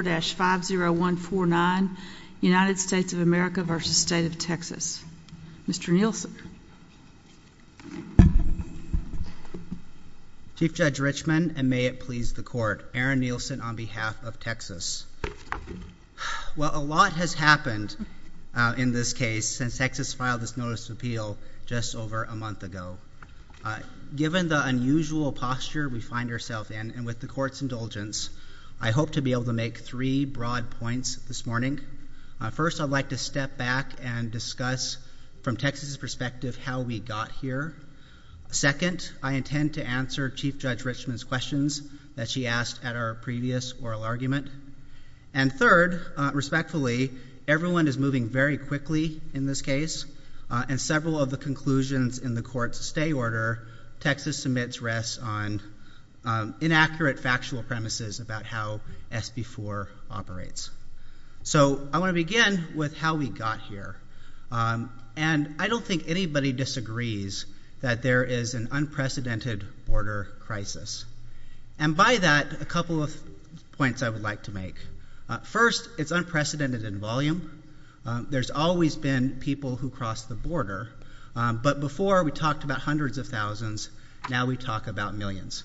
5 0 1 4 9, United States of America v. State of Texas. Mr. Nielsen. Chief Judge Richman, and may it please the Court, Aaron Nielsen on behalf of Texas. Well, a lot has happened in this case since Texas filed this Notice of Appeal just over a month ago. Given the unusual posture we find ourselves in, and with the Court's indulgence, I hope to be able to make three broad points this morning. First, I'd like to step back and discuss, from Texas' perspective, how we got here. Second, I intend to answer Chief Judge Richman's questions that she asked at our previous oral argument. And third, respectfully, everyone is moving very quickly in this case, and several of the conclusions in the Court's stay order Texas submits rest on inaccurate factual premises about how SB 4 operates. So I want to begin with how we got here. And I don't think anybody disagrees that there is an unprecedented border crisis. And by that, a couple of points I would like to make. First, it's unprecedented in volume. There's always been people who cross the border, but before we talked about hundreds of thousands, now we talk about millions.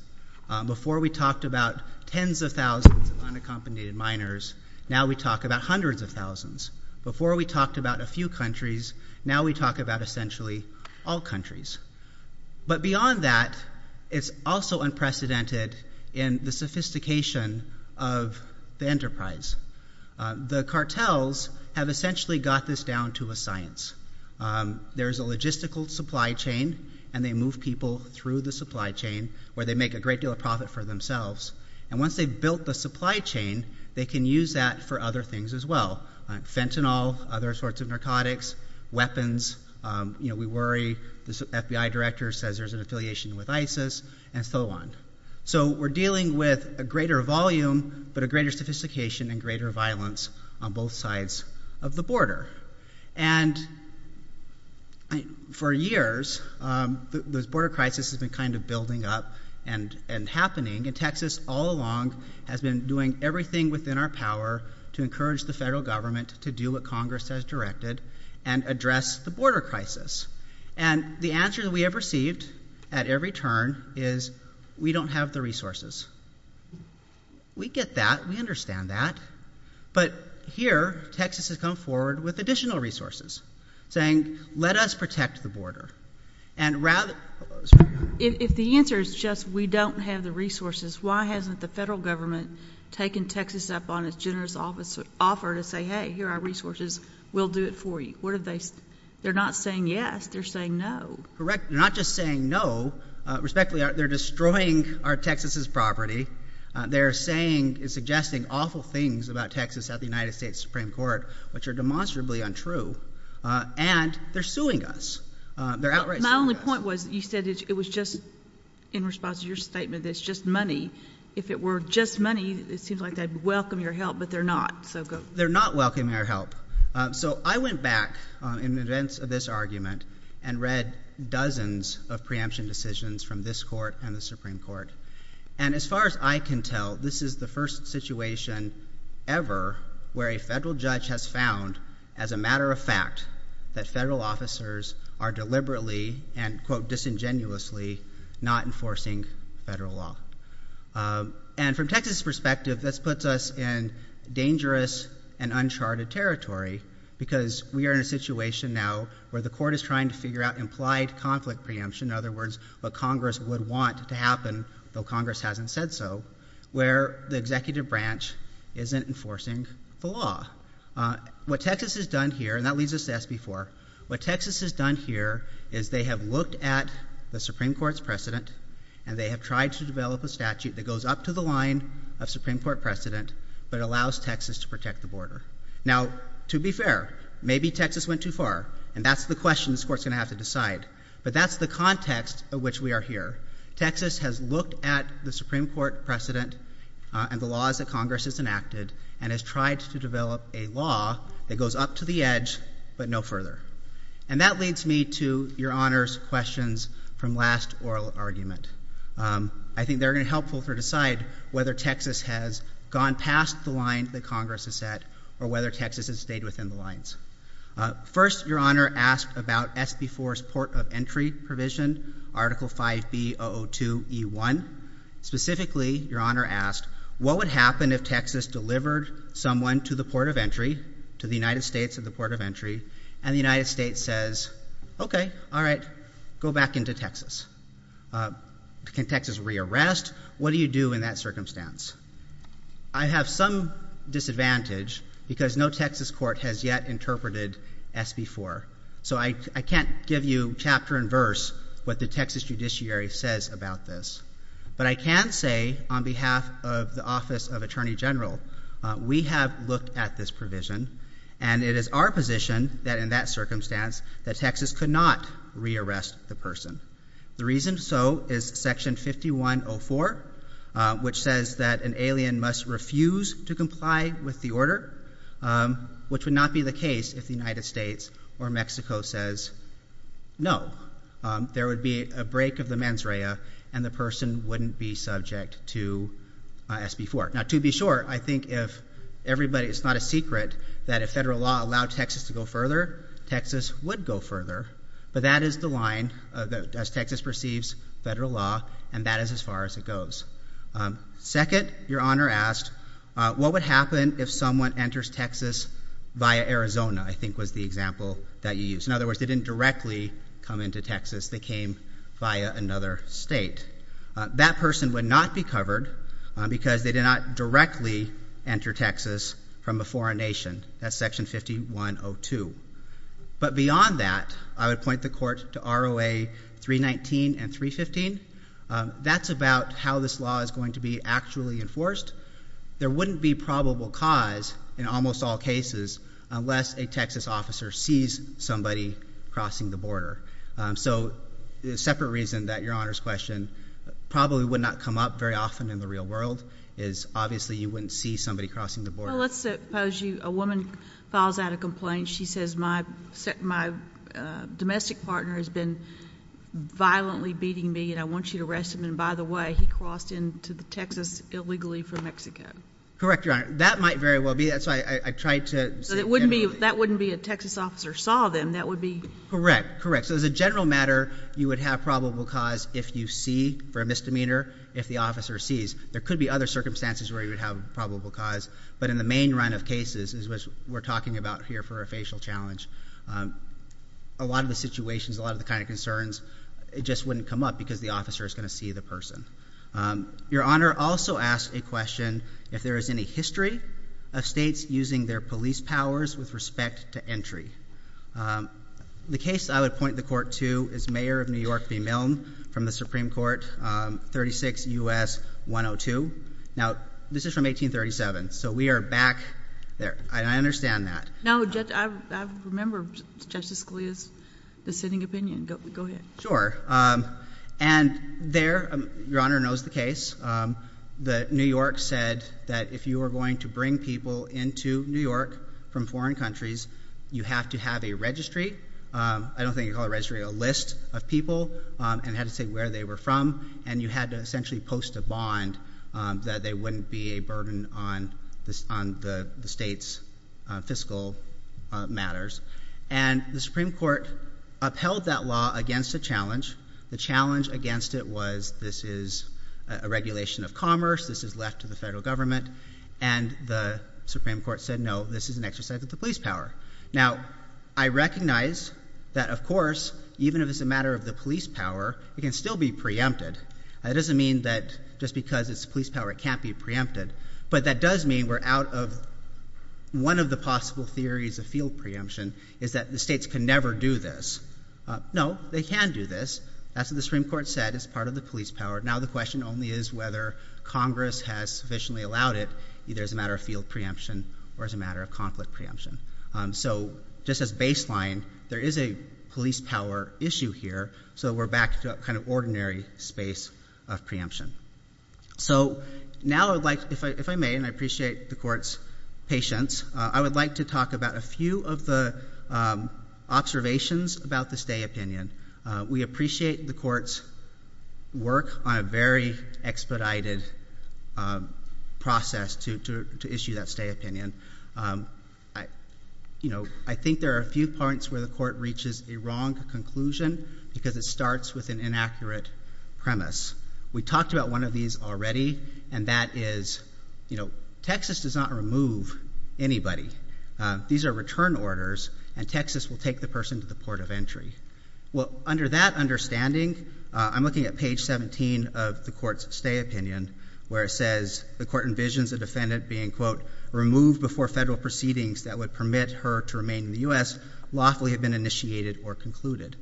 Before we talked about tens of thousands of unaccompanied minors, now we talk about hundreds of thousands. Before we talked about a few countries, now we talk about essentially all countries. But beyond that, it's also unprecedented in the sophistication of the enterprise. The cartels have essentially got this down to a science. There's a logistical supply chain, and they move people through the supply chain, where they make a great deal of profit for themselves. And once they've built the supply chain, they can use that for other things as well. Fentanyl, other sorts of narcotics, weapons, you know, we worry this FBI director says there's an affiliation with ISIS, and so on. So we're dealing with a greater volume, but a greater sophistication and greater violence on both sides of the border. And for years, this border crisis has been kind of building up and happening, and Texas all along has been doing everything within our power to encourage the federal government to do what Congress has directed and address the border crisis. And the answer that we have received at every turn is, we don't have the resources. We get that. We understand that. But here, Texas has come forward with additional resources, saying, let us protect the border. And rather... Sorry. If the answer is just, we don't have the resources, why hasn't the federal government taken Texas up on its generous offer to say, hey, here are our resources, we'll do it for you? What have they... They're not saying yes, they're saying no. Correct. They're not just saying no. Respectfully, they're destroying our Texas's property. They're saying and suggesting awful things about Texas at the United States Supreme Court, which are demonstrably untrue. And they're suing us. They're outright suing us. My only point was, you said it was just, in response to your statement, it's just money. If it were just money, it seems like they'd welcome your help, but they're not. They're not welcoming our help. So I went back in the events of this argument and read dozens of preemption decisions from this court and the Supreme Court. And as far as I can tell, this is the first situation ever where a federal judge has found, as a matter of fact, that federal officers are deliberately and, quote, disingenuously not enforcing federal law. And from Texas's perspective, this puts us in dangerous and uncharted territory because we are in a situation now where the court is trying to figure out implied conflict preemption, in other words, what Congress would want to happen, though Congress hasn't said so, where the executive branch isn't enforcing the law. What Texas has done here, and that leads us to SB 4, what Texas has done here is they have looked at the Supreme Court's precedent and they have tried to develop a statute that goes up to the line of Supreme Court precedent but allows Texas to protect the border. Now, to be fair, maybe Texas went too far. But that's the context of which we are here. Texas has looked at the Supreme Court precedent and the laws that Congress has enacted and has tried to develop a law that goes up to the edge but no further. And that leads me to Your Honor's questions from last oral argument. I think they're going to be helpful to decide whether Texas has gone past the line that First, Your Honor asked about SB 4's Port of Entry provision, Article 5B-002-E1. Specifically, Your Honor asked, what would happen if Texas delivered someone to the Port of Entry, to the United States at the Port of Entry, and the United States says, okay, all right, go back into Texas? Can Texas re-arrest? What do you do in that circumstance? I have some disadvantage because no Texas court has yet interpreted SB 4. So I can't give you chapter and verse what the Texas judiciary says about this. But I can say on behalf of the Office of Attorney General, we have looked at this provision and it is our position that in that circumstance that Texas could not re-arrest the person. The reason so is Section 5104, which says that an alien must refuse to comply with the order, which would not be the case if the United States or Mexico says no. There would be a break of the mens rea and the person wouldn't be subject to SB 4. Now, to be sure, I think if everybody, it's not a secret that if federal law allowed Texas to go further, Texas would go further, but that is the line as Texas perceives federal law and that is as far as it goes. Second, Your Honor asked, what would happen if someone enters Texas via Arizona, I think was the example that you used. In other words, they didn't directly come into Texas, they came via another state. That person would not be covered because they did not directly enter Texas from a foreign nation. That's Section 5102. But beyond that, I would point the court to ROA 319 and 315. That's about how this law is going to be actually enforced. There wouldn't be probable cause in almost all cases unless a Texas officer sees somebody crossing the border. So the separate reason that Your Honor's question probably would not come up very often in the real world is obviously you wouldn't see somebody crossing the border. Well, let's suppose a woman files out a complaint. She says, my domestic partner has been violently beating me and I want you to arrest him, and by the way, he crossed into Texas illegally from Mexico. Correct, Your Honor. That might very well be. That's why I tried to say it generally. That wouldn't be a Texas officer saw them. That would be... Correct. Correct. So as a general matter, you would have probable cause if you see, for a misdemeanor, if the officer sees. There could be other circumstances where you would have probable cause, but in the main run of cases is what we're talking about here for a facial challenge. A lot of the situations, a lot of the kind of concerns, it just wouldn't come up because the officer is going to see the person. Your Honor also asked a question if there is any history of states using their police powers with respect to entry. The case I would point the court to is Mayor of New York v. Milne from the Supreme Court, New York, 36 U.S. 102. Now this is from 1837, so we are back there, and I understand that. No, I remember Justice Scalia's dissenting opinion. Go ahead. Sure. And there, Your Honor knows the case, New York said that if you were going to bring people into New York from foreign countries, you have to have a registry. I don't think you call it a registry, a list of people, and it had to say where they were from, and you had to essentially post a bond that there wouldn't be a burden on the state's fiscal matters. And the Supreme Court upheld that law against a challenge. The challenge against it was this is a regulation of commerce, this is left to the federal government, and the Supreme Court said no, this is an exercise of the police power. Now I recognize that, of course, even if it's a matter of the police power, it can still be preempted. That doesn't mean that just because it's the police power it can't be preempted, but that does mean we're out of one of the possible theories of field preemption is that the states can never do this. No, they can do this, that's what the Supreme Court said, it's part of the police power. Now the question only is whether Congress has sufficiently allowed it, either as a matter of field preemption or as a matter of conflict preemption. So just as baseline, there is a police power issue here, so we're back to a kind of ordinary space of preemption. So now I'd like, if I may, and I appreciate the Court's patience, I would like to talk about a few of the observations about the stay opinion. We appreciate the Court's work on a very expedited process to issue that stay opinion. I think there are a few points where the Court reaches a wrong conclusion because it starts with an inaccurate premise. We talked about one of these already, and that is Texas does not remove anybody. These are return orders, and Texas will take the person to the port of entry. Under that understanding, I'm looking at page 17 of the Court's stay opinion, where it says the Court envisions a defendant being, quote, removed before federal proceedings that would permit her to remain in the U.S. lawfully had been initiated or concluded.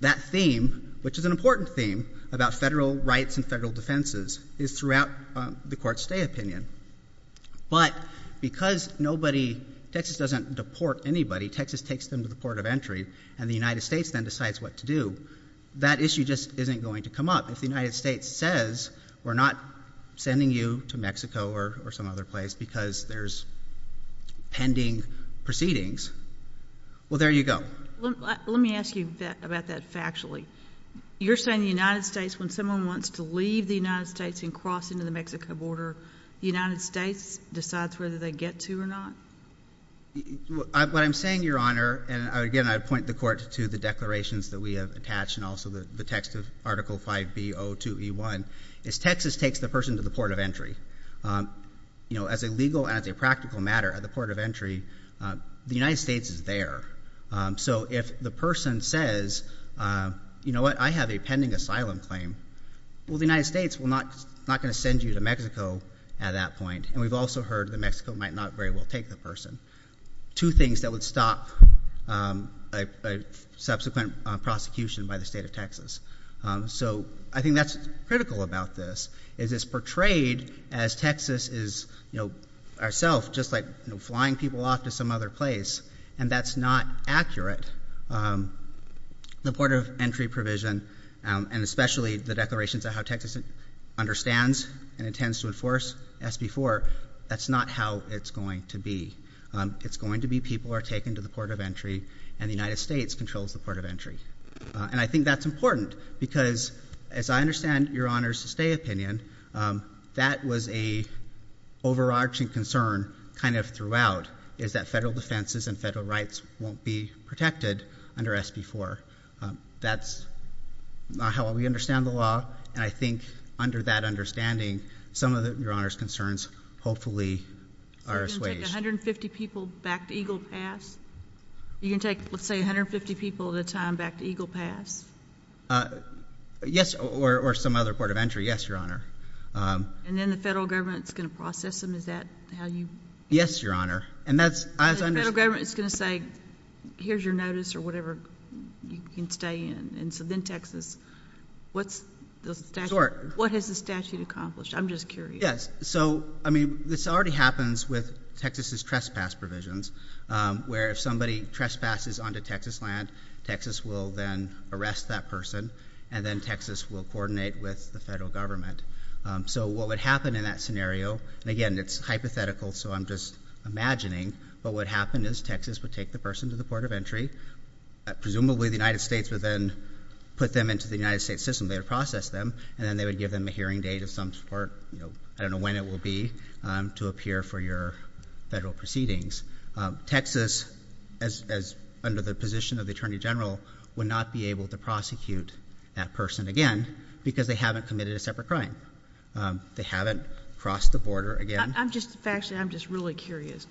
That theme, which is an important theme about federal rights and federal defenses, is throughout the Court's stay opinion. But because nobody, Texas doesn't deport anybody, Texas takes them to the port of entry, and the United States then decides what to do, that issue just isn't going to come up. If the United States says we're not sending you to Mexico or some other place because there's pending proceedings, well, there you go. Let me ask you about that factually. You're saying the United States, when someone wants to leave the United States and cross into the Mexico border, the United States decides whether they get to or not? What I'm saying, Your Honor, and again, I point the Court to the declarations that we have attached and also the text of Article 5B02E1, is Texas takes the person to the port of entry. As a legal and as a practical matter, at the port of entry, the United States is there. So if the person says, you know what, I have a pending asylum claim, well, the United States is not going to send you to Mexico at that point, and we've also heard that Mexico might not very well take the person, two things that would stop a subsequent prosecution by the State of Texas. So I think that's critical about this, is it's portrayed as Texas is, you know, ourself, just like flying people off to some other place, and that's not accurate. And the port of entry provision, and especially the declarations of how Texas understands and intends to enforce SB4, that's not how it's going to be. It's going to be people are taken to the port of entry, and the United States controls the port of entry. And I think that's important, because as I understand Your Honor's stay opinion, that was a overarching concern kind of throughout, is that federal defenses and federal rights won't be protected under SB4. That's not how we understand the law, and I think under that understanding, some of Your Honor's concerns hopefully are assuaged. So you're going to take 150 people back to Eagle Pass? You're going to take, let's say, 150 people at a time back to Eagle Pass? Yes, or some other port of entry, yes, Your Honor. And then the federal government is going to process them, is that how you? Yes, Your Honor. The federal government is going to say, here's your notice or whatever, you can stay in. And so then Texas, what's the statute, what has the statute accomplished? I'm just curious. Yes. So, I mean, this already happens with Texas's trespass provisions, where if somebody trespasses onto Texas land, Texas will then arrest that person, and then Texas will coordinate with the federal government. So what would happen in that scenario, and again, it's hypothetical, so I'm just imagining, but what would happen is Texas would take the person to the port of entry, presumably the United States would then put them into the United States system, they would process them, and then they would give them a hearing date of some sort, I don't know when it will be, to appear for your federal proceedings. Texas, under the position of the Attorney General, would not be able to prosecute that fine. They haven't crossed the border again. I'm just, actually, I'm just really curious.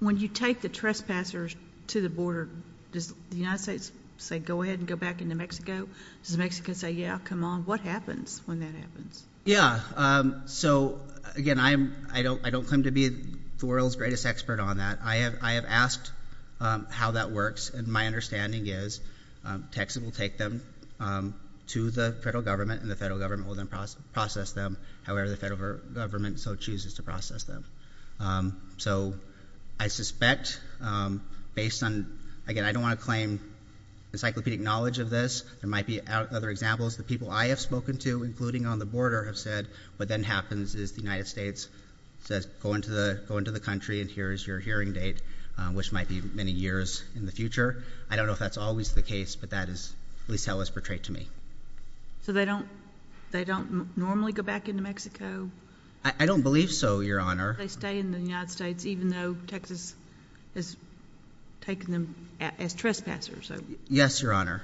When you take the trespassers to the border, does the United States say, go ahead and go back into Mexico? Does Mexico say, yeah, come on, what happens when that happens? Yeah. So, again, I don't claim to be the world's greatest expert on that. I have asked how that works, and my understanding is Texas will take them to the federal government, and the federal government will then process them, however the federal government so chooses to process them. So I suspect, based on, again, I don't want to claim encyclopedic knowledge of this, there might be other examples, the people I have spoken to, including on the border, have said what then happens is the United States says, go into the country, and here is your hearing date, which might be many years in the future. I don't know if that's always the case, but that is, at least that was portrayed to me. So they don't normally go back into Mexico? I don't believe so, Your Honor. They stay in the United States, even though Texas is taking them as trespassers? Yes, Your Honor.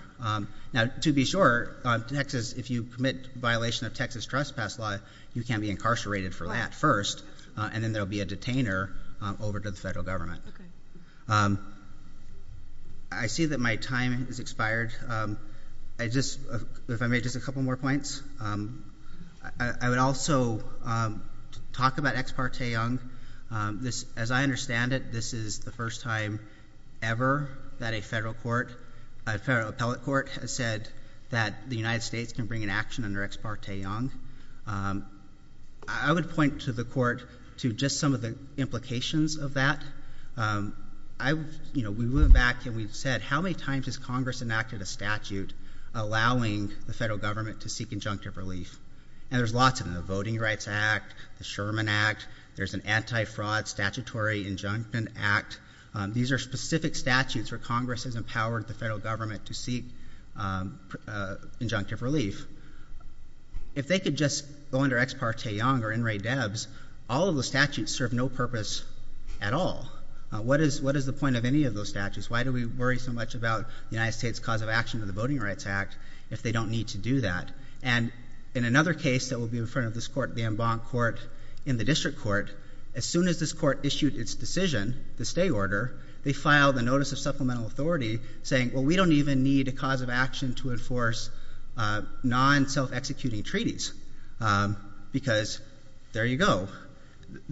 Now, to be sure, Texas, if you commit violation of Texas trespass law, you can be incarcerated for that first, and then there will be a detainer over to the federal government. I see that my time has expired. I just, if I may, just a couple more points. I would also talk about Ex parte Young. As I understand it, this is the first time ever that a federal court, a federal appellate court has said that the United States can bring an action under Ex parte Young. I would point to the court to just some of the implications of that. I, you know, we went back and we said, how many times has Congress enacted a statute allowing the federal government to seek injunctive relief? And there's lots of them, the Voting Rights Act, the Sherman Act, there's an Anti-Fraud Statutory Injunction Act. These are specific statutes where Congress has empowered the federal government to seek injunctive relief. If they could just go under Ex parte Young or NRA DEBS, all of the statutes serve no purpose at all. What is the point of any of those statutes? Why do we worry so much about the United States' cause of action under the Voting Rights Act if they don't need to do that? And in another case that will be in front of this court, the Embank court in the district court, as soon as this court issued its decision, the stay order, they filed a notice of supplemental authority saying, well, we don't even need a cause of action to enforce non-self-executing treaties because there you go.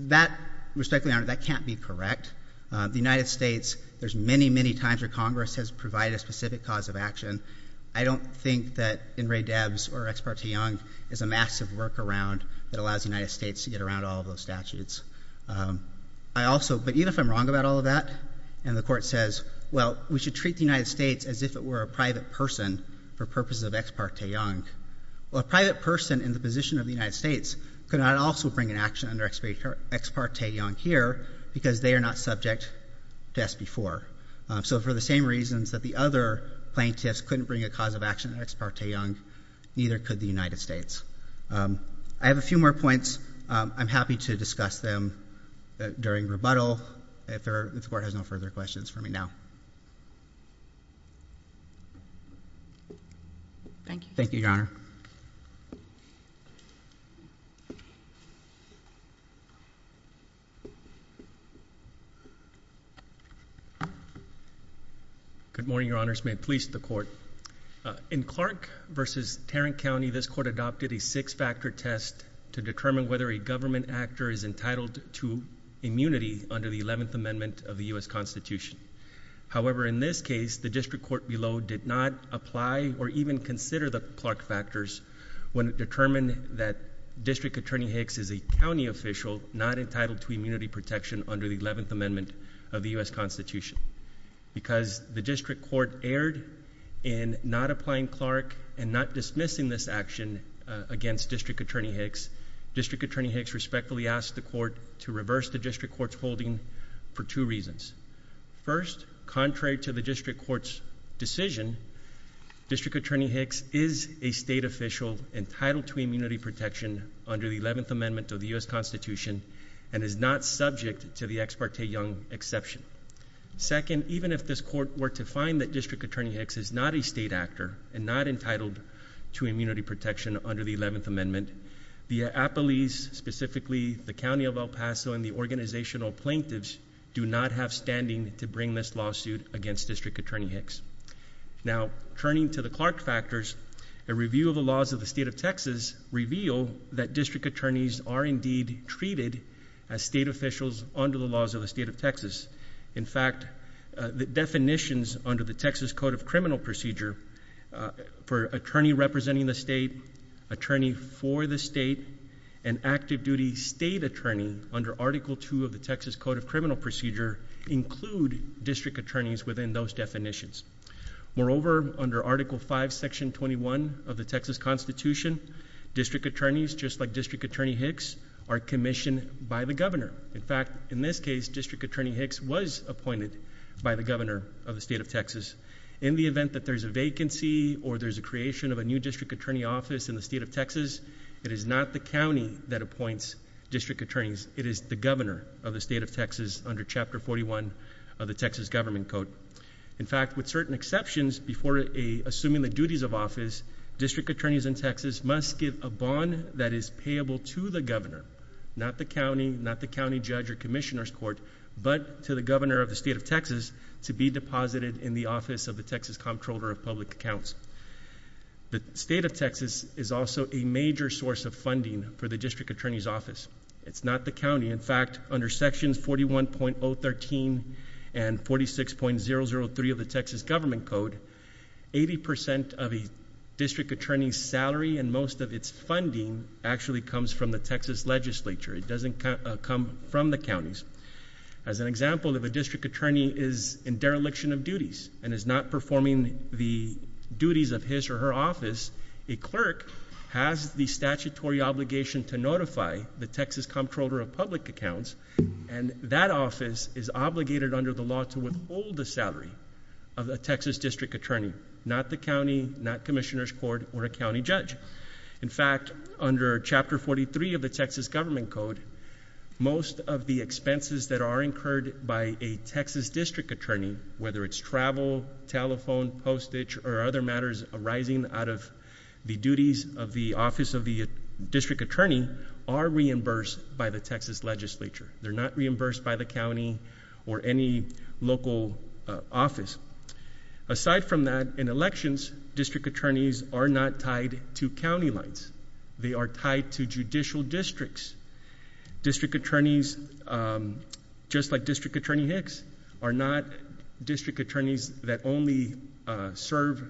That, respectfully honored, that can't be correct. The United States, there's many, many times where Congress has provided a specific cause of action. I don't think that NRA DEBS or Ex parte Young is a massive workaround that allows the United States to get around all of those statutes. I also, but even if I'm wrong about all of that, and the court says, well, we should treat the United States as if it were a private person for purposes of Ex parte Young, a private person in the position of the United States could not also bring an action under Ex parte Young here because they are not subject to SB 4. So for the same reasons that the other plaintiffs couldn't bring a cause of action in Ex parte Young, neither could the United States. I have a few more points. I'm happy to discuss them during rebuttal if the court has no further questions for me now. Thank you. Thank you, Your Honor. Thank you, Your Honor. Good morning, Your Honors. May it please the Court. In Clark v. Tarrant County, this court adopted a six-factor test to determine whether a government actor is entitled to immunity under the 11th Amendment of the U.S. Constitution. However, in this case, the district court below did not apply or even consider the Clark factors when it determined that District Attorney Hicks is a county official not entitled to immunity protection under the 11th Amendment of the U.S. Constitution. Because the district court erred in not applying Clark and not dismissing this action against District Attorney Hicks, District Attorney Hicks respectfully asked the court to reverse the district court's holding for two reasons. First, contrary to the district court's decision, District Attorney Hicks is a state official entitled to immunity protection under the 11th Amendment of the U.S. Constitution and is not subject to the Ex parte Young exception. Second, even if this court were to find that District Attorney Hicks is not a state actor and not entitled to immunity protection under the 11th Amendment, the Appellees, specifically the County of El Paso and the organizational plaintiffs, do not have standing to bring this lawsuit against District Attorney Hicks. Now, turning to the Clark factors, a review of the laws of the state of Texas revealed that district attorneys are indeed treated as state officials under the laws of the state of Texas. In fact, the definitions under the Texas Code of Criminal Procedure for attorney representing the state, attorney for the state, and active duty state attorney under Article II of the Texas Code of Criminal Procedure include district attorneys within those definitions. Moreover, under Article V, Section 21 of the Texas Constitution, district attorneys, just like District Attorney Hicks, are commissioned by the governor. In fact, in this case, District Attorney Hicks was appointed by the governor of the state of Texas. In the event that there's a vacancy or there's a creation of a new district attorney office in the state of Texas, it is not the county that appoints district attorneys. It is the governor of the state of Texas under Chapter 41 of the Texas Government Code. In fact, with certain exceptions before assuming the duties of office, district attorneys in Texas must give a bond that is payable to the governor, not the county, not the county in the office of the Texas Comptroller of Public Accounts. The state of Texas is also a major source of funding for the district attorney's office. It's not the county. In fact, under Sections 41.013 and 46.003 of the Texas Government Code, 80 percent of a district attorney's salary and most of its funding actually comes from the Texas legislature. It doesn't come from the counties. As an example, if a district attorney is in dereliction of duties and is not performing the duties of his or her office, a clerk has the statutory obligation to notify the Texas Comptroller of Public Accounts, and that office is obligated under the law to withhold the salary of a Texas district attorney, not the county, not Commissioner's Court, or a county judge. In fact, under Chapter 43 of the Texas Government Code, most of the expenses that are incurred by a Texas district attorney, whether it's travel, telephone, postage, or other matters arising out of the duties of the office of the district attorney, are reimbursed by the Texas legislature. They're not reimbursed by the county or any local office. Aside from that, in elections, district attorneys are not tied to county lines. They are tied to judicial districts. District attorneys, just like District Attorney Hicks, are not district attorneys that only serve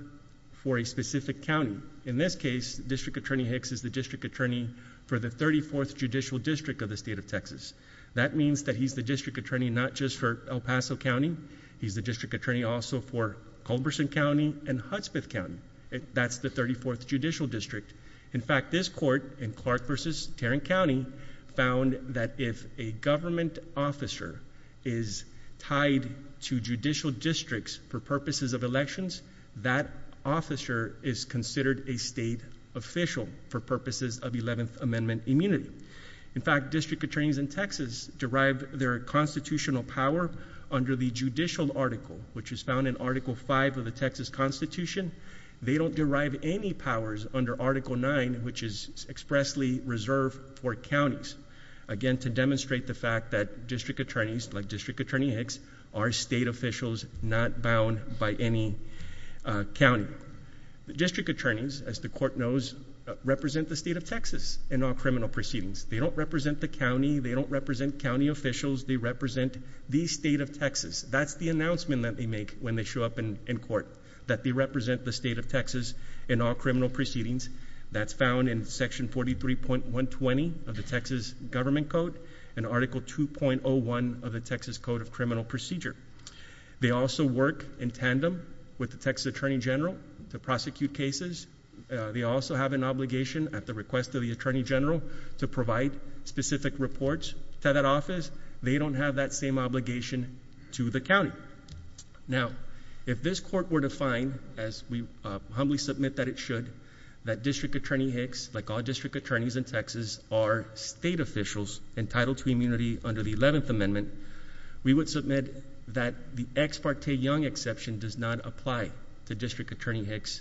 for a specific county. In this case, District Attorney Hicks is the district attorney for the 34th Judicial District of the State of Texas. That means that he's the district attorney not just for El Paso County. He's the district attorney also for Culberson County and Hudspeth County. That's the 34th Judicial District. In fact, this court in Clark v. Tarrant County found that if a government officer is tied to judicial districts for purposes of elections, that officer is considered a state official for purposes of 11th Amendment immunity. In fact, district attorneys in Texas derive their constitutional power under the judicial article, which is found in Article V of the Texas Constitution. They don't derive any powers under Article IX, which is expressly reserved for counties. Again, to demonstrate the fact that district attorneys, like District Attorney Hicks, are state officials not bound by any county. District attorneys, as the court knows, represent the State of Texas in all criminal proceedings. They don't represent the county. They don't represent county officials. They represent the State of Texas. That's the announcement that they make when they show up in court, that they represent the State of Texas in all criminal proceedings. That's found in Section 43.120 of the Texas Government Code and Article 2.01 of the Texas Code of Criminal Procedure. They also work in tandem with the Texas Attorney General to prosecute cases. They also have an obligation, at the request of the Attorney General, to provide specific reports to that office. They don't have that same obligation to the county. Now, if this court were to find, as we humbly submit that it should, that District Attorney Hicks, like all district attorneys in Texas, are state officials entitled to immunity under the 11th Amendment, we would submit that the Ex Parte Young exception does not apply to District Attorney Hicks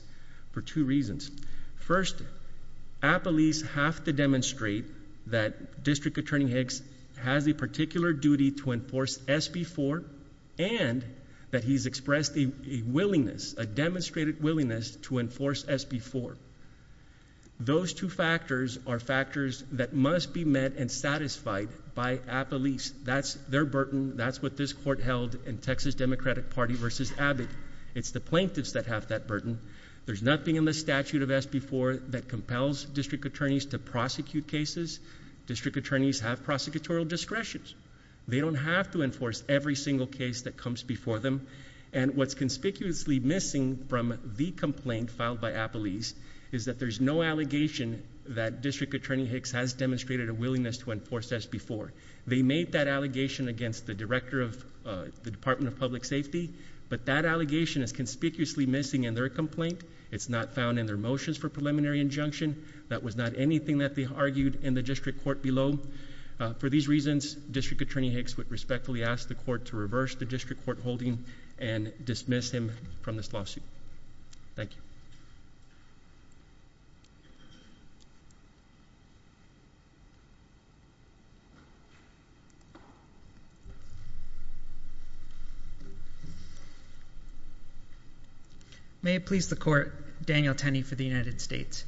for two reasons. First, appellees have to demonstrate that District Attorney Hicks has a particular duty to enforce SB 4, and that he's expressed a willingness, a demonstrated willingness, to enforce SB 4. Those two factors are factors that must be met and satisfied by appellees. That's their burden. That's what this court held in Texas Democratic Party v. Abbott. It's the plaintiffs that have that burden. There's nothing in the statute of SB 4 that compels district attorneys to prosecute cases. District attorneys have prosecutorial discretion. They don't have to enforce every single case that comes before them, and what's conspicuously missing from the complaint filed by appellees is that there's no allegation that District Attorney Hicks has demonstrated a willingness to enforce SB 4. They made that allegation against the director of the Department of Public Safety, but that allegation is conspicuously missing in their complaint. It's not found in their motions for preliminary injunction. That was not anything that they argued in the district court below. For these reasons, District Attorney Hicks would respectfully ask the court to reverse the district court holding and dismiss him from this lawsuit. Thank you. May it please the court, Daniel Tenney for the United States.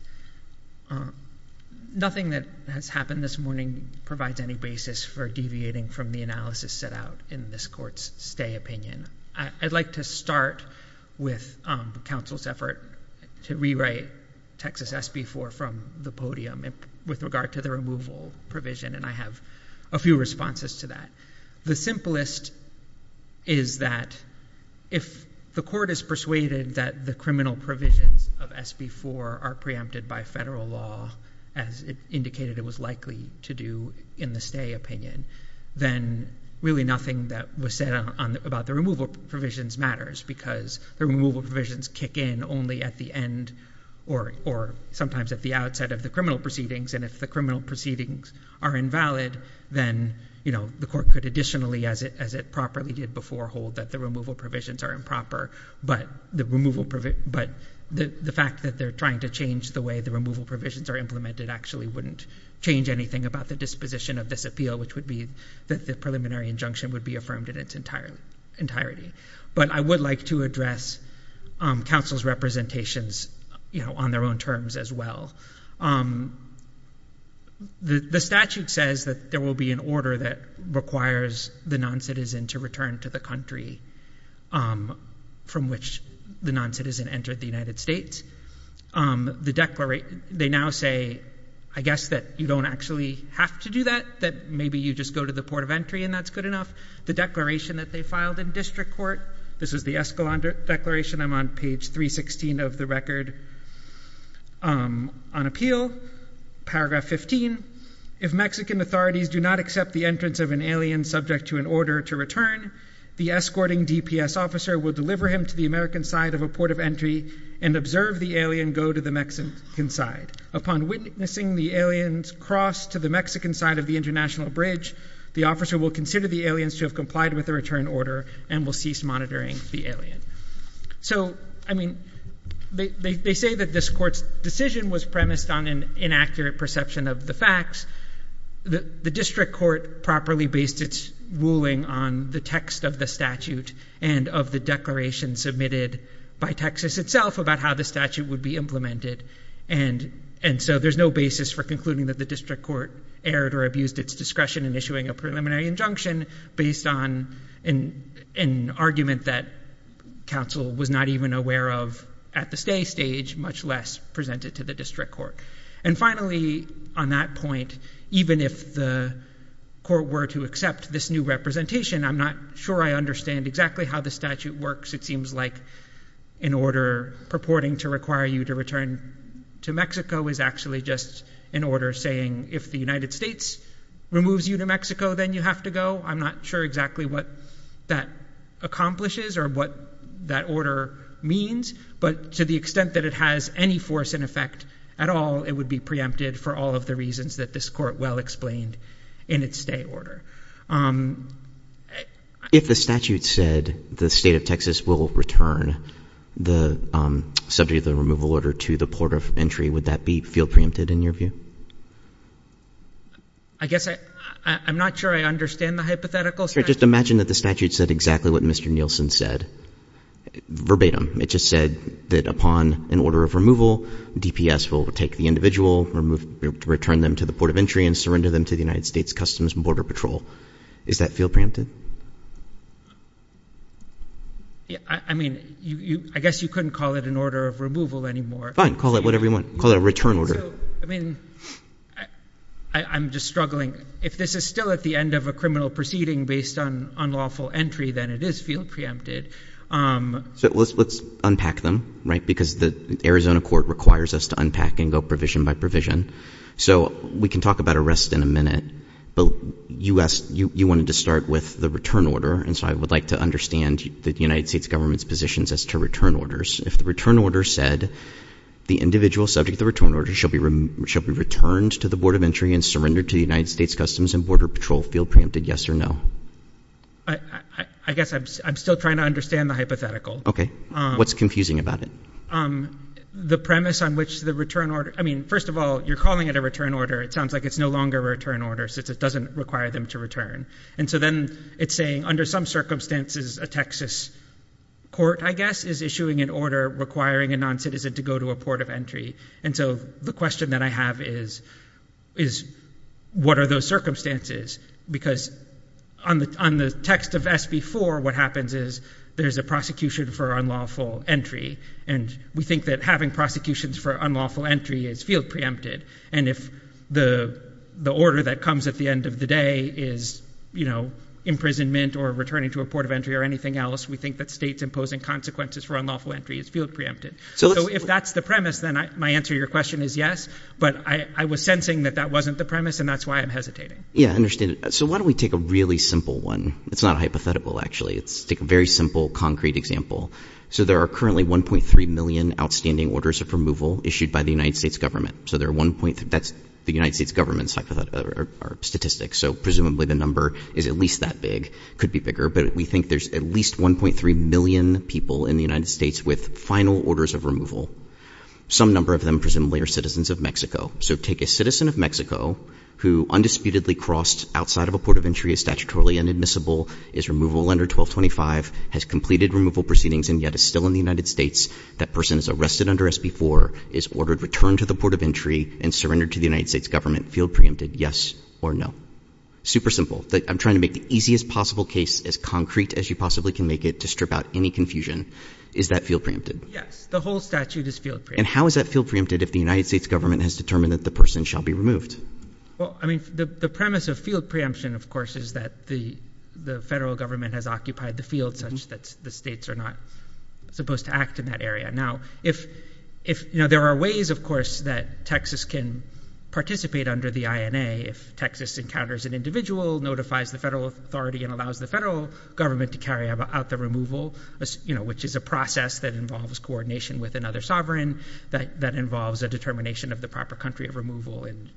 Nothing that has happened this morning provides any basis for deviating from the analysis set out in this court's stay opinion. I'd like to start with counsel's effort to rewrite Texas SB 4 from the podium with regard to the removal provision, and I have a few responses to that. The simplest is that if the court is persuaded that the criminal provisions of SB 4 are preempted by federal law, as indicated it was likely to do in the stay opinion, then really nothing that was said about the removal provisions matters, because the removal provisions kick in only at the end or sometimes at the outset of the criminal proceedings, and if the criminal proceedings are invalid, then the court could additionally, as it properly did before, hold that the removal provisions are improper. But the fact that they're trying to change the way the removal provisions are implemented actually wouldn't change anything about the disposition of this appeal, which would be that the preliminary injunction would be affirmed in its entirety. But I would like to address counsel's representations on their own terms as well. The statute says that there will be an order that requires the non-citizen to return to the country from which the non-citizen entered the United States. They now say, I guess that you don't actually have to do that, that maybe you just go to the port of entry and that's good enough. The declaration that they filed in district court, this is the Escalante Declaration, I'm on page 316 of the record. On appeal, paragraph 15, if Mexican authorities do not accept the entrance of an alien subject to an order to return, the escorting DPS officer will deliver him to the American side of a port of entry and observe the alien go to the Mexican side. Upon witnessing the alien's cross to the Mexican side of the international bridge, the officer will consider the aliens to have complied with the return order and will cease monitoring the alien. So I mean, they say that this court's decision was premised on an inaccurate perception of the facts. The district court properly based its ruling on the text of the statute and of the declaration submitted by Texas itself about how the statute would be implemented. And so there's no basis for concluding that the district court erred or abused its discretion in issuing a preliminary injunction based on an argument that counsel was not even aware of at the stay stage, much less presented to the district court. And finally, on that point, even if the court were to accept this new representation, I'm not sure I understand exactly how the statute works. It seems like an order purporting to require you to return to Mexico is actually just an order saying if the United States removes you to Mexico, then you have to go. I'm not sure exactly what that accomplishes or what that order means, but to the extent that it has any force in effect at all, it would be preempted for all of the reasons that this court well explained in its stay order. If the statute said the state of Texas will return the subject of the removal order to the port of entry, would that be feel preempted in your view? I guess I'm not sure I understand the hypothetical. Just imagine that the statute said exactly what Mr. Nielsen said verbatim. It just said that upon an order of removal, DPS will take the individual, return them to the port of entry and surrender them to the United States Customs and Border Patrol. Is that feel preempted? I mean, I guess you couldn't call it an order of removal anymore. Fine. Call it whatever you want. Call it a return order. I mean, I'm just struggling. If this is still at the end of a criminal proceeding based on unlawful entry, then it is feel preempted. So let's unpack them, right? Because the Arizona court requires us to unpack and go provision by provision. So we can talk about arrest in a minute, but you asked, you wanted to start with the return order and so I would like to understand the United States government's positions as to return orders. If the return order said the individual subject of the return order shall be returned to the port of entry and surrendered to the United States Customs and Border Patrol, feel preempted yes or no? I guess I'm still trying to understand the hypothetical. Okay. What's confusing about it? The premise on which the return order, I mean, first of all, you're calling it a return order. It sounds like it's no longer a return order since it doesn't require them to return. And so then it's saying under some circumstances, a Texas court, I guess, is issuing an order requiring a non-citizen to go to a port of entry. And so the question that I have is, is what are those circumstances? Because on the, on the text of SB4, what happens is there's a prosecution for unlawful entry. And we think that having prosecutions for unlawful entry is field preempted. And if the, the order that comes at the end of the day is, you know, imprisonment or returning to a port of entry or anything else, we think that state's imposing consequences for unlawful entry is field preempted. So if that's the premise, then my answer to your question is yes. But I was sensing that that wasn't the premise and that's why I'm hesitating. Yeah, I understand. So why don't we take a really simple one? It's not a hypothetical, actually, it's a very simple, concrete example. So there are currently 1.3 million outstanding orders of removal issued by the United States government. So there are 1.3, that's the United States government's statistics. So presumably the number is at least that big, could be bigger, but we think there's at least 1.3 million people in the United States with final orders of removal. Some number of them presumably are citizens of Mexico. So take a citizen of Mexico who undisputedly crossed outside of a port of entry, is statutorily inadmissible, is removable under 1225, has completed removal proceedings and yet is still in the United States. That person is arrested under SB 4, is ordered return to the port of entry and surrendered to the United States government, field preempted, yes or no. Super simple. I'm trying to make the easiest possible case as concrete as you possibly can make it to strip out any confusion. Is that field preempted? Yes. The whole statute is field preempted. And how is that field preempted if the United States government has determined that the person shall be removed? Well, I mean, the premise of field preemption, of course, is that the federal government has occupied the field such that the states are not supposed to act in that area. Now, there are ways, of course, that Texas can participate under the INA if Texas encounters an individual, notifies the federal authority and allows the federal government to carry out the removal, which is a process that involves coordination with another sovereign, that involves a determination of the proper country of removal and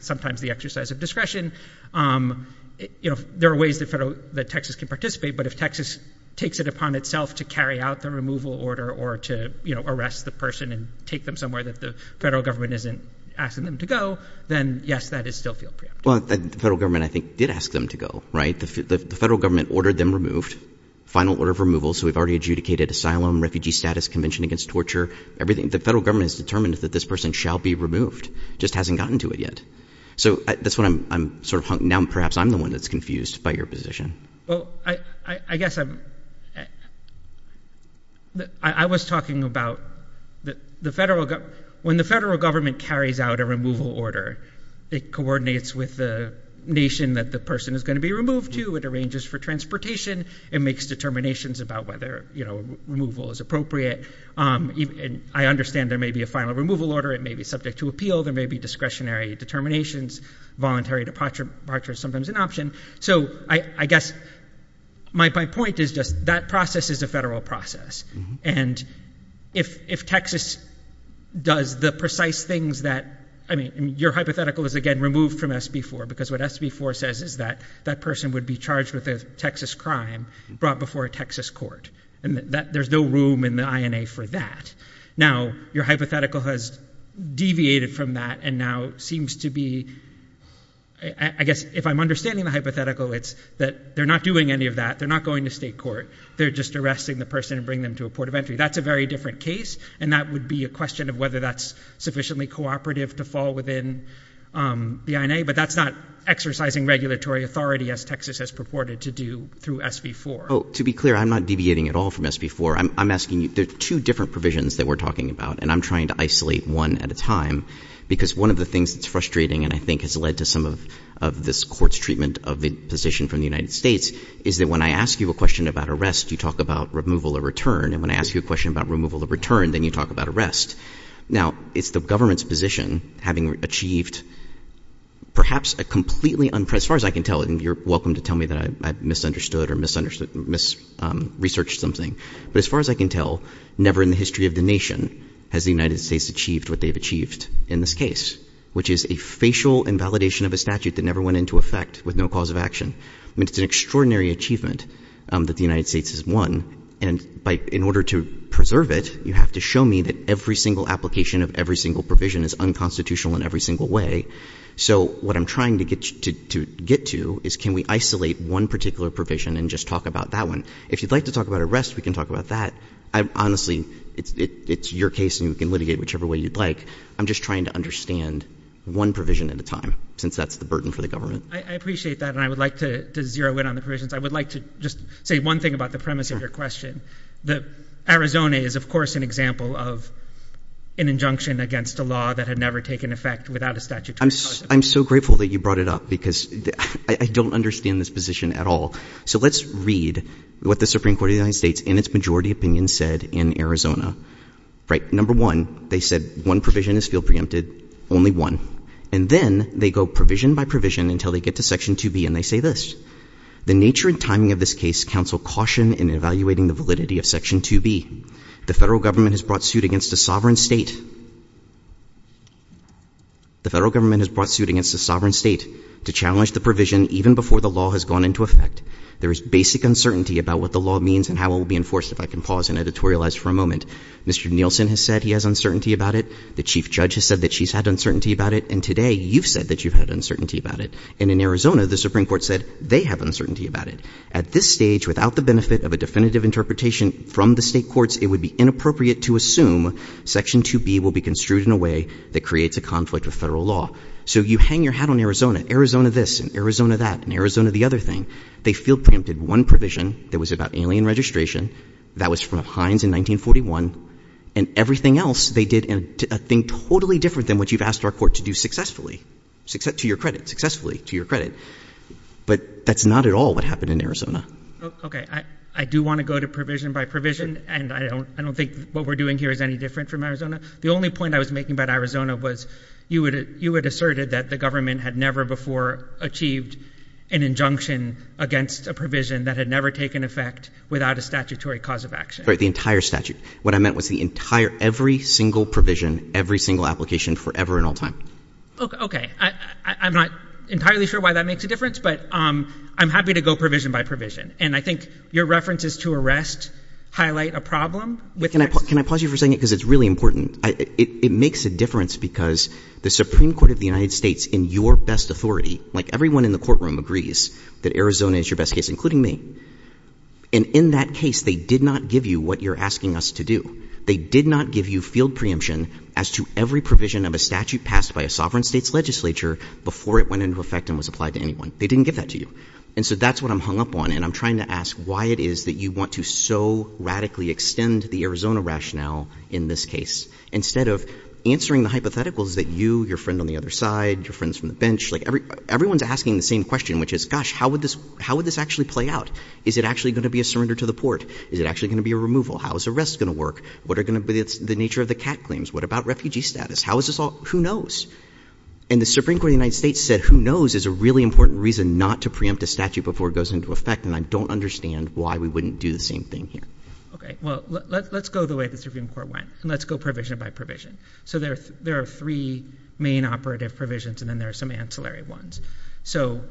sometimes the exercise of discretion. There are ways that Texas can participate. But if Texas takes it upon itself to carry out the removal order or to arrest the person and take them somewhere that the federal government isn't asking them to go, then yes, that is still field preempted. Well, the federal government, I think, did ask them to go, right? The federal government ordered them removed. Final order of removal. So we've already adjudicated asylum, refugee status, convention against torture, everything. The federal government has determined that this person shall be removed, just hasn't gotten to it yet. So that's what I'm sort of hunkering down. Perhaps I'm the one that's confused by your position. Well, I guess I was talking about when the federal government carries out a removal order, it coordinates with the nation that the person is going to be removed to. It arranges for transportation. It makes determinations about whether removal is appropriate. I understand there may be a final removal order. It may be subject to appeal. There may be discretionary determinations. Voluntary departure is sometimes an option. So I guess my point is just that process is a federal process. And if Texas does the precise things that, I mean, your hypothetical is again removed from SB 4 because what SB 4 says is that that person would be charged with a Texas crime brought before a Texas court and that there's no room in the INA for that. Now your hypothetical has deviated from that and now seems to be, I guess if I'm understanding the hypothetical, it's that they're not doing any of that. They're not going to state court. They're just arresting the person and bring them to a port of entry. That's a very different case and that would be a question of whether that's sufficiently cooperative to fall within the INA. But that's not exercising regulatory authority as Texas has purported to do through SB 4. To be clear, I'm not deviating at all from SB 4. I'm asking you, there are two different provisions that we're talking about and I'm trying to isolate one at a time because one of the things that's frustrating and I think has led to some of this court's treatment of the position from the United States is that when I ask you a question about arrest, you talk about removal or return and when I ask you a question about removal or return, then you talk about arrest. Now it's the government's position having achieved perhaps a completely unprecedented as far as I can tell, and you're welcome to tell me that I misunderstood or mis-researched something. But as far as I can tell, never in the history of the nation has the United States achieved what they've achieved in this case, which is a facial invalidation of a statute that never went into effect with no cause of action. I mean, it's an extraordinary achievement that the United States has won and in order to preserve it, you have to show me that every single application of every single provision is unconstitutional in every single way. So what I'm trying to get to is can we isolate one particular provision and just talk about that one? If you'd like to talk about arrest, we can talk about that. Honestly, it's your case and you can litigate whichever way you'd like. I'm just trying to understand one provision at a time since that's the burden for the government. I appreciate that, and I would like to zero in on the provisions. I would like to just say one thing about the premise of your question, that Arizona is of course an example of an injunction against a law that had never taken effect without a statute. I'm so grateful that you brought it up because I don't understand this position at all. So let's read what the Supreme Court of the United States in its majority opinion said in Arizona. Right. Number one, they said one provision is field preempted, only one. And then they go provision by provision until they get to section 2B and they say this. The nature and timing of this case counsel caution in evaluating the validity of section 2B. The federal government has brought suit against a sovereign state. The federal government has brought suit against a sovereign state to challenge the provision even before the law has gone into effect. There is basic uncertainty about what the law means and how it will be enforced if I can pause and editorialize for a moment. Mr. Nielsen has said he has uncertainty about it. The chief judge has said that she's had uncertainty about it. And today you've said that you've had uncertainty about it. And in Arizona, the Supreme Court said they have uncertainty about it. At this stage, without the benefit of a definitive interpretation from the state courts, it would be inappropriate to assume section 2B will be construed in a way that creates a conflict with federal law. So you hang your hat on Arizona. Arizona this and Arizona that and Arizona the other thing. They field preempted one provision that was about alien registration. That was from Hines in 1941. And everything else, they did a thing totally different than what you've asked our court to do successfully, to your credit, successfully, to your credit. But that's not at all what happened in Arizona. Okay. I do want to go to provision by provision. And I don't think what we're doing here is any different from Arizona. The only point I was making about Arizona was you had asserted that the government had never before achieved an injunction against a provision that had never taken effect without a statutory cause of action. Right. That was the entire statute. What I meant was the entire, every single provision, every single application, forever and all time. Okay. Okay. I'm not entirely sure why that makes a difference, but I'm happy to go provision by provision. And I think your references to arrest highlight a problem. Can I pause you for a second? Because it's really important. It makes a difference because the Supreme Court of the United States, in your best authority, like everyone in the courtroom agrees that Arizona is your best case, including me, and in that case, they did not give you what you're asking us to do. They did not give you field preemption as to every provision of a statute passed by a sovereign state's legislature before it went into effect and was applied to anyone. They didn't give that to you. And so that's what I'm hung up on. And I'm trying to ask why it is that you want to so radically extend the Arizona rationale in this case, instead of answering the hypotheticals that you, your friend on the other side, your friends from the bench, like everyone's asking the same question, which is, gosh, how would this, how would this actually play out? Is it actually going to be a surrender to the port? Is it actually going to be a removal? How is arrest going to work? What are going to be the nature of the cat claims? What about refugee status? How is this all? Who knows? And the Supreme Court of the United States said, who knows, is a really important reason not to preempt a statute before it goes into effect, and I don't understand why we wouldn't do the same thing here. Okay. Well, let's go the way the Supreme Court went, and let's go provision by provision. So there are three main operative provisions, and then there are some ancillary ones. So,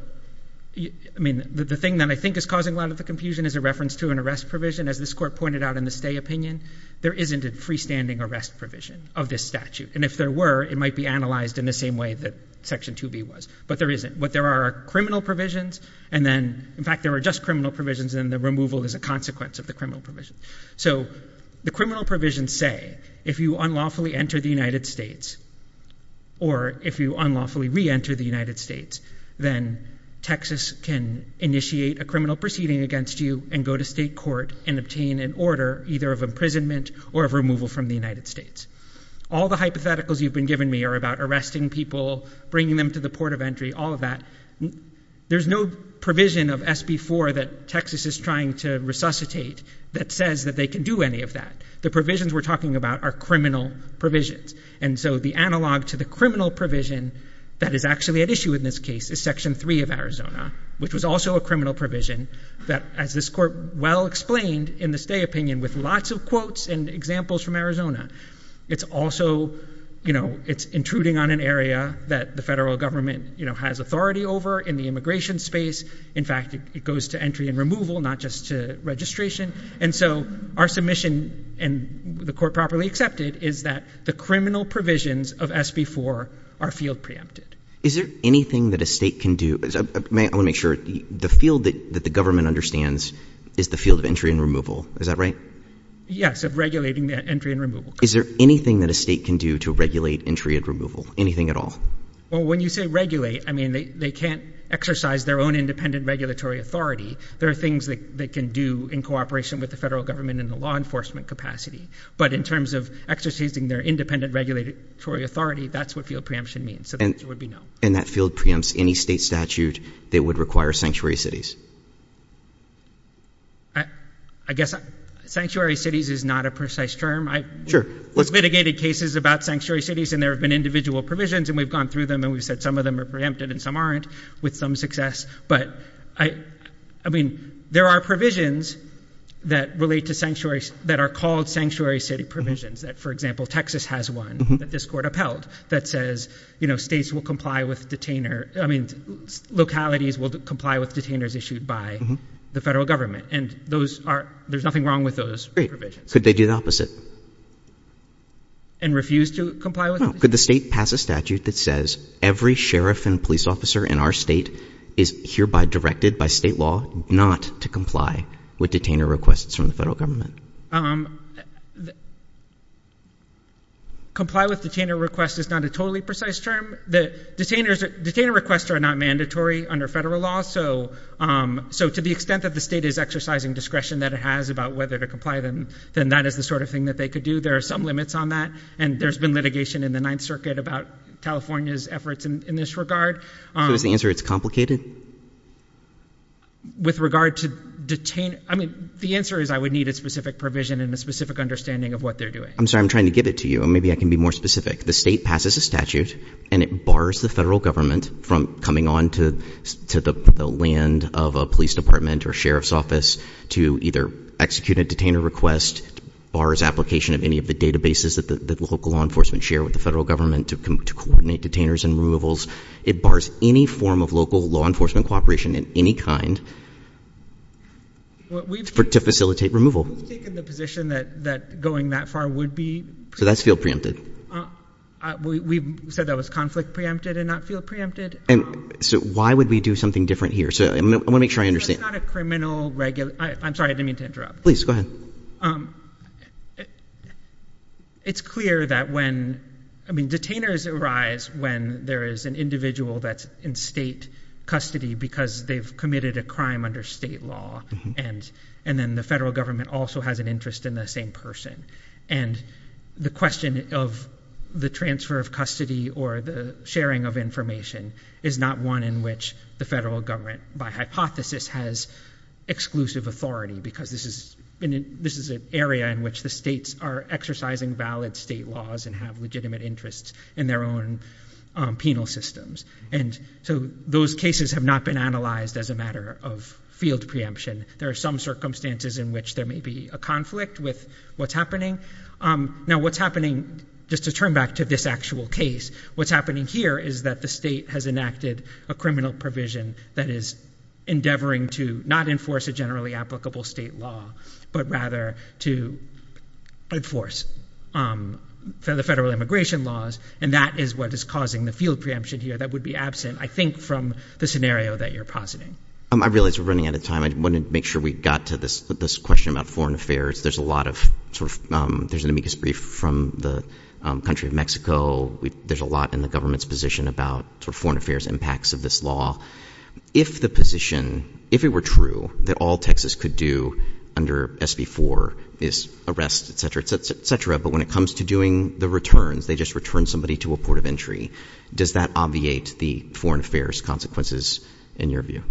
I mean, the thing that I think is causing a lot of the confusion is a reference to an arrest provision. As this court pointed out in the stay opinion, there isn't a freestanding arrest provision of this statute. And if there were, it might be analyzed in the same way that Section 2B was. But there isn't. What there are are criminal provisions, and then, in fact, there are just criminal provisions, and the removal is a consequence of the criminal provision. So the criminal provisions say, if you unlawfully enter the United States, or if you unlawfully re-enter the United States, then Texas can initiate a criminal proceeding against you and go to state court and obtain an order either of imprisonment or of removal from the United States. All the hypotheticals you've been giving me are about arresting people, bringing them to the port of entry, all of that. There's no provision of SB 4 that Texas is trying to resuscitate that says that they can do any of that. The provisions we're talking about are criminal provisions. And so the analog to the criminal provision that is actually at issue in this case is Section 3 of Arizona, which was also a criminal provision that, as this Court well explained in the stay opinion with lots of quotes and examples from Arizona, it's also intruding on an area that the federal government has authority over in the immigration space. In fact, it goes to entry and removal, not just to registration. And so our submission, and the Court properly accepted, is that the criminal provisions of SB 4 are field preempted. Is there anything that a state can do? I want to make sure. The field that the government understands is the field of entry and removal. Is that right? Yes, of regulating the entry and removal. Is there anything that a state can do to regulate entry and removal? Anything at all? Well, when you say regulate, I mean, they can't exercise their own independent regulatory authority. There are things that they can do in cooperation with the federal government in the law enforcement capacity. But in terms of exercising their independent regulatory authority, that's what field preemption means. So there would be no. And that field preempts any state statute that would require sanctuary cities? I guess sanctuary cities is not a precise term. Sure. We've litigated cases about sanctuary cities, and there have been individual provisions, and we've gone through them, and we've said some of them are preempted and some aren't with some success. But, I mean, there are provisions that relate to sanctuary, that are called sanctuary city provisions that, for example, Texas has one that this court upheld that says, you know, states will comply with detainer, I mean, localities will comply with detainers issued by the federal government. And those are, there's nothing wrong with those provisions. Could they do the opposite? And refuse to comply? No. Could the state pass a statute that says every sheriff and police officer in our state is hereby directed by state law not to comply with detainer requests from the federal government? Comply with detainer request is not a totally precise term. Detainer requests are not mandatory under federal law. So to the extent that the state is exercising discretion that it has about whether to comply, then that is the sort of thing that they could do. There are some limits on that. And there's been litigation in the Ninth Circuit about California's efforts in this regard. So does the answer, it's complicated? With regard to detain, I mean, the answer is I would need a specific provision and a specific understanding of what they're doing. I'm sorry, I'm trying to get it to you, and maybe I can be more specific. The state passes a statute, and it bars the federal government from coming on to the land of a police department or sheriff's office to either execute a detainer request, bars application of any of the databases that the local law enforcement share with the federal government to coordinate detainers and removals. It bars any form of local law enforcement cooperation in any kind to facilitate removal. We've taken the position that going that far would be. So that's field preempted. We said that was conflict preempted and not field preempted. And so why would we do something different here? So I want to make sure I understand. That's not a criminal, I'm sorry, I didn't mean to interrupt. Please, go ahead. It's clear that when, I mean, detainers arise when there is an individual that's in state custody because they've committed a crime under state law, and then the federal government also has an interest in the same person. And the question of the transfer of custody or the sharing of information is not one in which the federal government, by hypothesis, has exclusive authority because this is an area in which the states are exercising valid state laws and have legitimate interests in their own penal systems. And so those cases have not been analyzed as a matter of field preemption. There are some circumstances in which there may be a conflict with what's happening. Now what's happening, just to turn back to this actual case, what's happening here is that the state has enacted a criminal provision that is endeavoring to not enforce a generally applicable state law, but rather to enforce the federal immigration laws, and that is what is causing the field preemption here that would be absent, I think, from the scenario that you're positing. I realize we're running out of time, I wanted to make sure we got to this question about foreign affairs. There's a lot of, there's an amicus brief from the country of Mexico, there's a lot in the government's position about foreign affairs impacts of this law. If the position, if it were true that all Texas could do under SB 4 is arrest, et cetera, et cetera, but when it comes to doing the returns, they just return somebody to a port of entry, does that obviate the foreign affairs consequences in your view?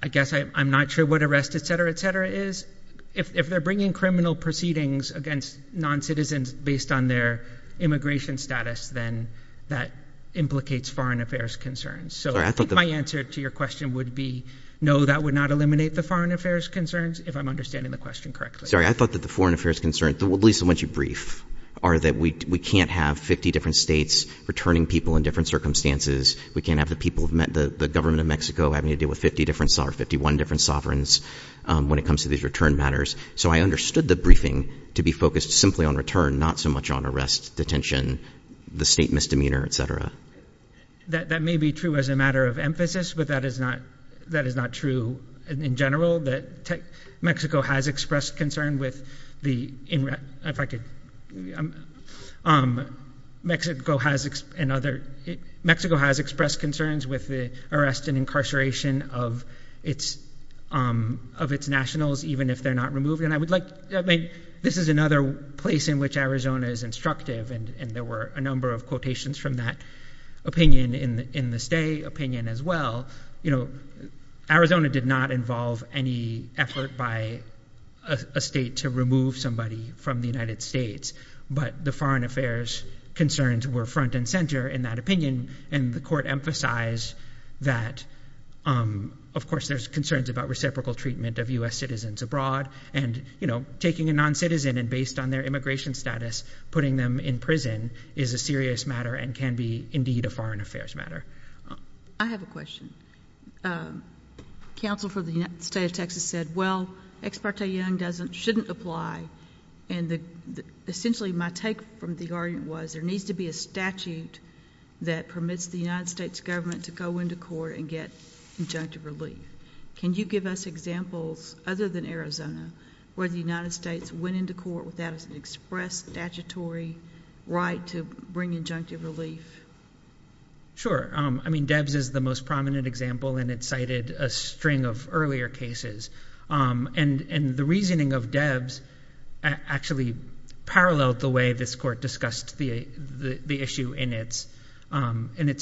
I guess I'm not sure what arrest, et cetera, et cetera, is. If they're bringing criminal proceedings against non-citizens based on their immigration status, then that implicates foreign affairs concerns. So I think my answer to your question would be no, that would not eliminate the foreign affairs concerns, if I'm understanding the question correctly. Sorry, I thought that the foreign affairs concerns, at least the ones you brief, are that we can't have 50 different states returning people in different circumstances, we can't have the people, the government of Mexico having to deal with 50 different, or 51 different sovereigns when it comes to these return matters. So I understood the briefing to be focused simply on return, not so much on arrest, detention, the state misdemeanor, et cetera. That may be true as a matter of emphasis, but that is not true in general. Mexico has expressed concerns with the arrest and incarceration of its nationals, even if they're not removed. And I would like, this is another place in which Arizona is instructive, and there were a number of quotations from that opinion in the state opinion as well. Arizona did not involve any effort by a state to remove somebody from the United States, but the foreign affairs concerns were front and center in that opinion, and the court emphasized that, of course, there's concerns about reciprocal treatment of US citizens abroad and, you know, taking a non-citizen and based on their immigration status, putting them in prison is a serious matter and can be, indeed, a foreign affairs matter. I have a question. Counsel for the state of Texas said, well, Ex parte Young shouldn't apply, and essentially my take from the argument was there needs to be a statute that permits the United States government to go into court and get injunctive relief. Can you give us examples, other than Arizona, where the United States went into court without an expressed statutory right to bring injunctive relief? Sure. I mean, Debs is the most prominent example, and it cited a string of earlier cases, and the reasoning of Debs actually paralleled the way this court discussed the issue in its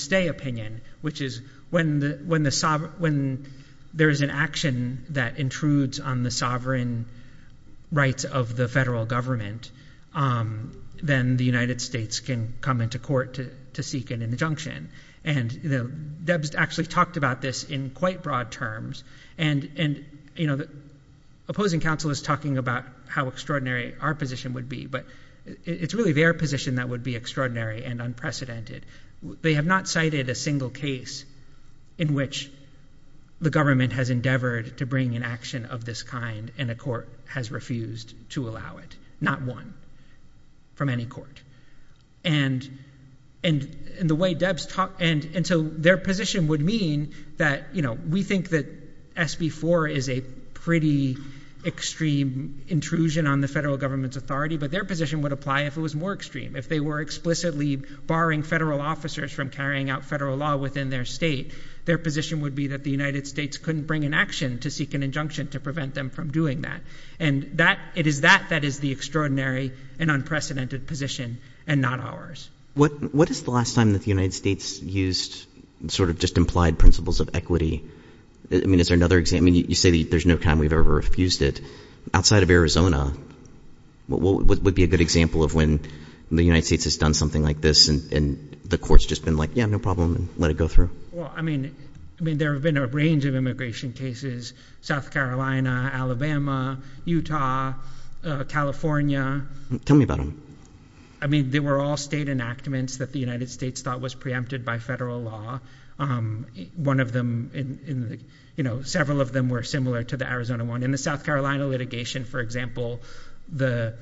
day opinion, which is when there is an action that intrudes on the sovereign rights of the federal government, then the United States can come into court to seek an injunction, and Debs actually talked about this in quite broad terms, and, you know, opposing counsel is talking about how extraordinary our position would be, but it's really their position that would be extraordinary and unprecedented. They have not cited a single case in which the government has endeavored to bring an action of this kind, and a court has refused to allow it, not one from any court, and the way Debs talked, and so their position would mean that, you know, we think that SB 4 is a pretty extreme intrusion on the federal government's authority, but their position would apply if it was more extreme. If they were explicitly barring federal officers from carrying out federal law within their state, their position would be that the United States couldn't bring an action to seek an injunction to prevent them from doing that, and that, it is that that is the extraordinary and unprecedented position, and not ours. What is the last time that the United States used sort of just implied principles of equity? I mean, is there another example, I mean, you say there's no time we've ever refused it. Outside of Arizona, what would be a good example of when the United States has done something like this, and the court's just been like, yeah, no problem, let it go through? Well, I mean, I mean, there have been a range of immigration cases, South Carolina, Alabama, Utah, California. Tell me about them. I mean, they were all state enactments that the United States thought was preempted by federal law. One of them, you know, several of them were similar to the Arizona one, and the South Carolina litigation, for example, the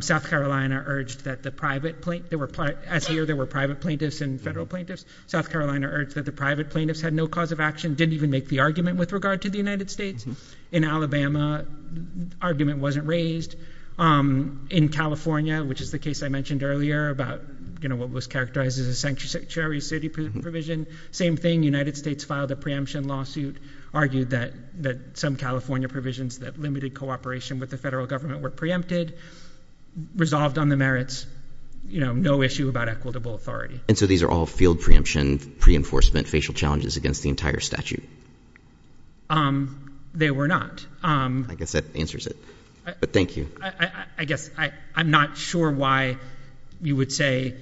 South Carolina urged that the private, as here there were private plaintiffs and federal plaintiffs, South Carolina urged that the private plaintiffs had no cause of action, didn't even make the argument with regard to the United States. In Alabama, argument wasn't raised. In California, which is the case I mentioned earlier about, you know, what was characterized as a sanctuary city provision, same thing, United States filed a preemption lawsuit, argued that some California provisions that limited cooperation with the federal government were preempted, resolved on the merits, you know, no issue about equitable authority. And so these are all field preemption, pre-enforcement, facial challenges against the entire statute? They were not. I guess that answers it, but thank you. I guess I'm not sure why you would say,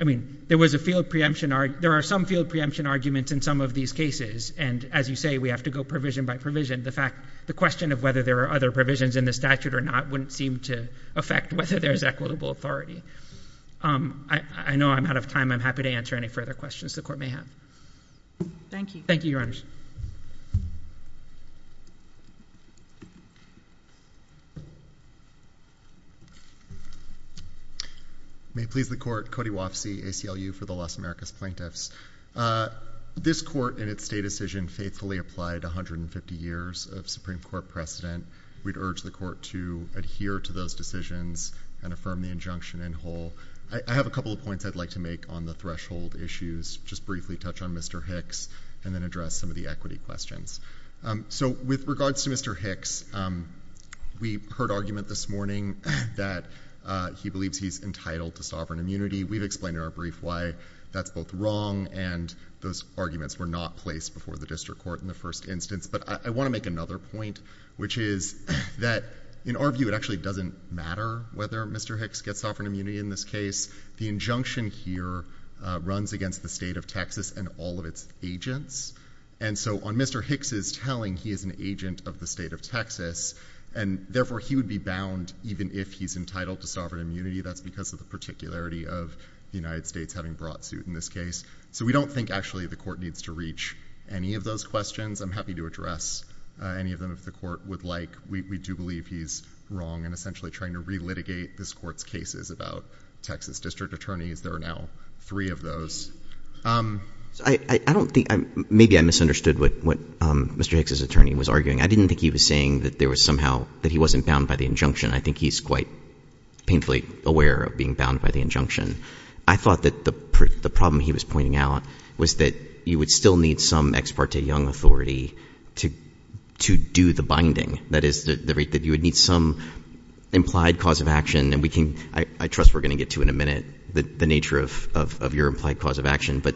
I mean, there was a field preemption, there are some field preemption arguments in some of these cases, and as you say, we have to go provision by provision. The fact, the question of whether there are other provisions in the statute or not wouldn't seem to affect whether there's equitable authority. I know I'm out of time. I'm happy to answer any further questions the court may have. Thank you. Thank you, Your Honors. May it please the court, Cody Wofsy, ACLU for the Los Americas Plaintiffs. This court in its state decision faithfully applied 150 years of Supreme Court precedent. We'd urge the court to adhere to those decisions and affirm the injunction in whole. I have a couple of points I'd like to make on the threshold issues, just briefly touch on Mr. Hicks, and then address some of the equity questions. So with regards to Mr. Hicks, we heard argument this morning that he believes he's entitled to sovereign immunity. We've explained in our brief why that's both wrong and those arguments were not placed before the district court in the first instance. But I want to make another point, which is that in our view, it actually doesn't matter whether Mr. Hicks gets sovereign immunity in this case. The injunction here runs against the state of Texas and all of its agents. And so on Mr. Hicks' telling, he is an agent of the state of Texas, and therefore he would be bound even if he's entitled to sovereign immunity. That's because of the particularity of the United States having brought suit in this case. So we don't think actually the court needs to reach any of those questions. I'm happy to address any of them if the court would like. We do believe he's wrong and essentially trying to relitigate this court's cases about Texas district attorneys. There are now three of those. I don't think, maybe I misunderstood what Mr. Hicks' attorney was arguing. I didn't think he was saying that there was somehow, that he wasn't bound by the injunction. I think he's quite painfully aware of being bound by the injunction. I thought that the problem he was pointing out was that you would still need some ex parte young authority to do the binding. That is, that you would need some implied cause of action and we can, I trust we're going to get to in a minute the nature of your implied cause of action, but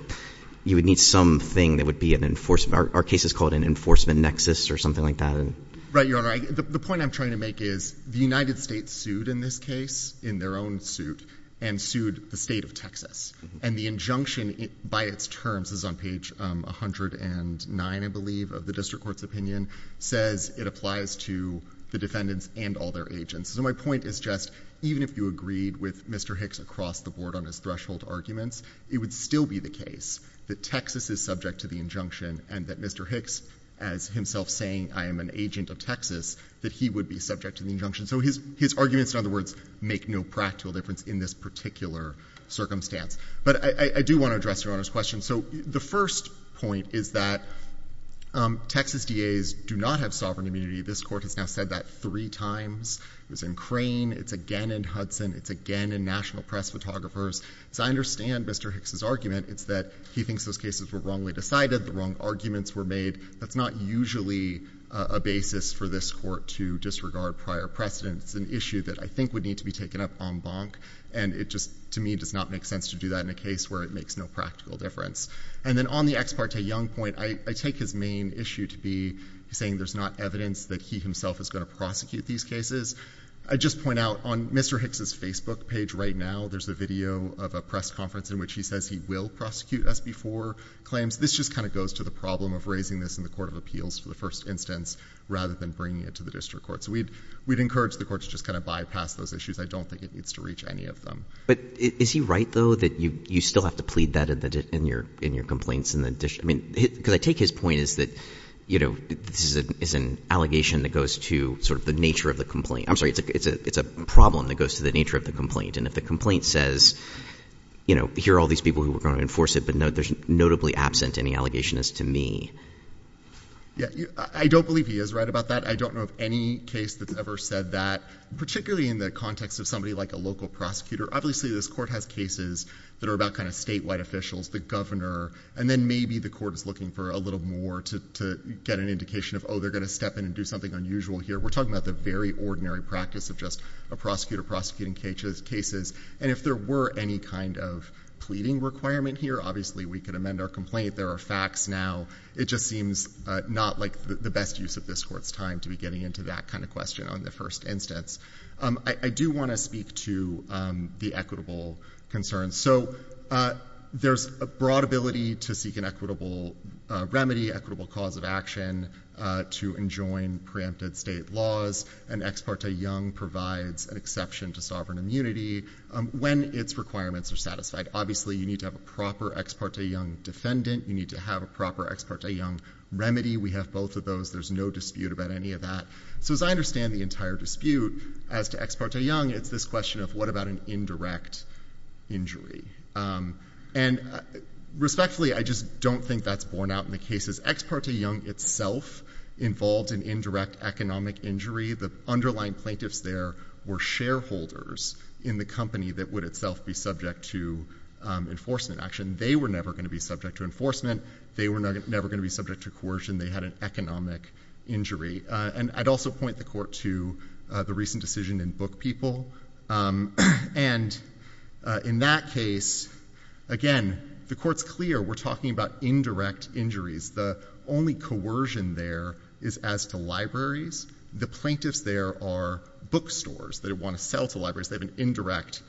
you would need something that would be an enforcement, our case is called an enforcement nexus or something like that. Right, Your Honor. The point I'm trying to make is the United States sued in this case, in their own suit, and sued the state of Texas. And the injunction by its terms is on page 109, I believe, of the district court's opinion, says it applies to the defendants and all their agents. So my point is just, even if you agreed with Mr. Hicks across the board on his threshold arguments, it would still be the case that Texas is subject to the injunction and that Mr. Hicks, as himself saying, I am an agent of Texas, that he would be subject to the injunction. So his arguments, in other words, make no practical difference in this particular circumstance. But I do want to address Your Honor's question. So the first point is that Texas DAs do not have sovereign immunity. This court has now said that three times. It was in Crane, it's again in Hudson, it's again in National Press Photographers. As I understand Mr. Hicks' argument, it's that he thinks those cases were wrongly decided, the wrong arguments were made. That's not usually a basis for this court to disregard prior precedents. It's an issue that I think would need to be taken up en banc. And it just, to me, does not make sense to do that in a case where it makes no practical difference. And then on the Ex parte Young point, I take his main issue to be saying there's not evidence that he himself is going to prosecute these cases. I just point out, on Mr. Hicks' Facebook page right now, there's a video of a press conference in which he says he will prosecute SB4 claims. This just kind of goes to the problem of raising this in the Court of Appeals for the first instance rather than bringing it to the District Court. So we'd encourage the courts to just kind of bypass those issues. I don't think it needs to reach any of them. But is he right, though, that you still have to plead that in your complaints in the District Court? I mean, because I take his point as that this is an allegation that goes to sort of the nature of the complaint. I'm sorry. It's a problem that goes to the nature of the complaint. And if the complaint says, here are all these people who are going to enforce it, but they're notably absent in the allegation as to me. I don't believe he is right about that. I don't know of any case that's ever said that, particularly in the context of somebody like a local prosecutor. Obviously, this court has cases that are about kind of statewide officials, the governor, and then maybe the court is looking for a little more to get an indication of, oh, they're going to step in and do something unusual here. We're talking about the very ordinary practice of just a prosecutor prosecuting cases. And if there were any kind of pleading requirement here, obviously, we could amend our complaint. There are facts now. It just seems not like the best use of this court's time to be getting into that kind of question on the first instance. I do want to speak to the equitable concerns. So there's a broad ability to seek an equitable remedy, equitable cause of action, to enjoin preempted state laws. And Ex parte Young provides an exception to sovereign immunity when its requirements are satisfied. Obviously, you need to have a proper Ex parte Young defendant. You need to have a proper Ex parte Young remedy. We have both of those. There's no dispute about any of that. So as I understand the entire dispute as to Ex parte Young, it's this question of what about an indirect injury. And respectfully, I just don't think that's borne out in the cases. Ex parte Young itself involved an indirect economic injury. The underlying plaintiffs there were shareholders in the company that would itself be subject to enforcement action. They were never going to be subject to enforcement. They were never going to be subject to coercion. They had an economic injury. And I'd also point the court to the recent decision in Book People. And in that case, again, the court's clear we're talking about indirect injuries. The only coercion there is as to libraries. The plaintiffs there are bookstores that want to sell to libraries. They have an indirect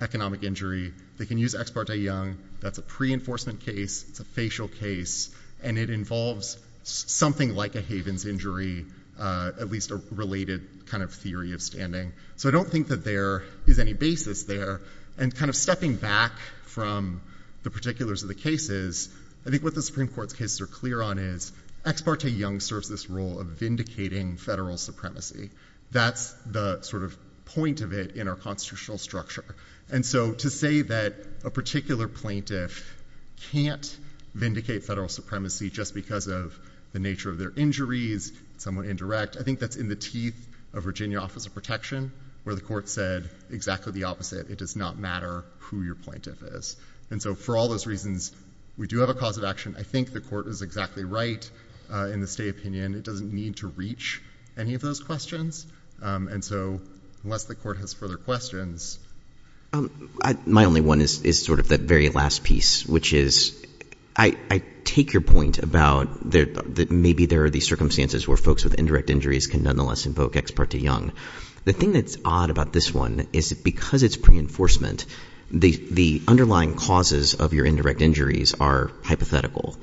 economic injury. They can use Ex parte Young. That's a pre-enforcement case. It's a facial case. And it involves something like a Havens injury, at least a related kind of theory of standing. So I don't think that there is any basis there. And kind of stepping back from the particulars of the cases, I think what the Supreme Court's cases are clear on is Ex parte Young serves this role of vindicating federal supremacy. That's the sort of point of it in our constitutional structure. And so to say that a particular plaintiff can't vindicate federal supremacy just because of the nature of their injuries, somewhat indirect, I think that's in the teeth of Virginia Office of Protection, where the court said exactly the opposite. It does not matter who your plaintiff is. And so for all those reasons, we do have a cause of action. I think the court is exactly right in the state opinion. It doesn't need to reach any of those questions. And so unless the court has further questions. My only one is sort of that very last piece, which is I take your point about that maybe there are these circumstances where folks with indirect injuries can nonetheless invoke Ex parte Young. The thing that's odd about this one is because it's pre-enforcement, the underlying causes of your indirect injuries are hypothetical.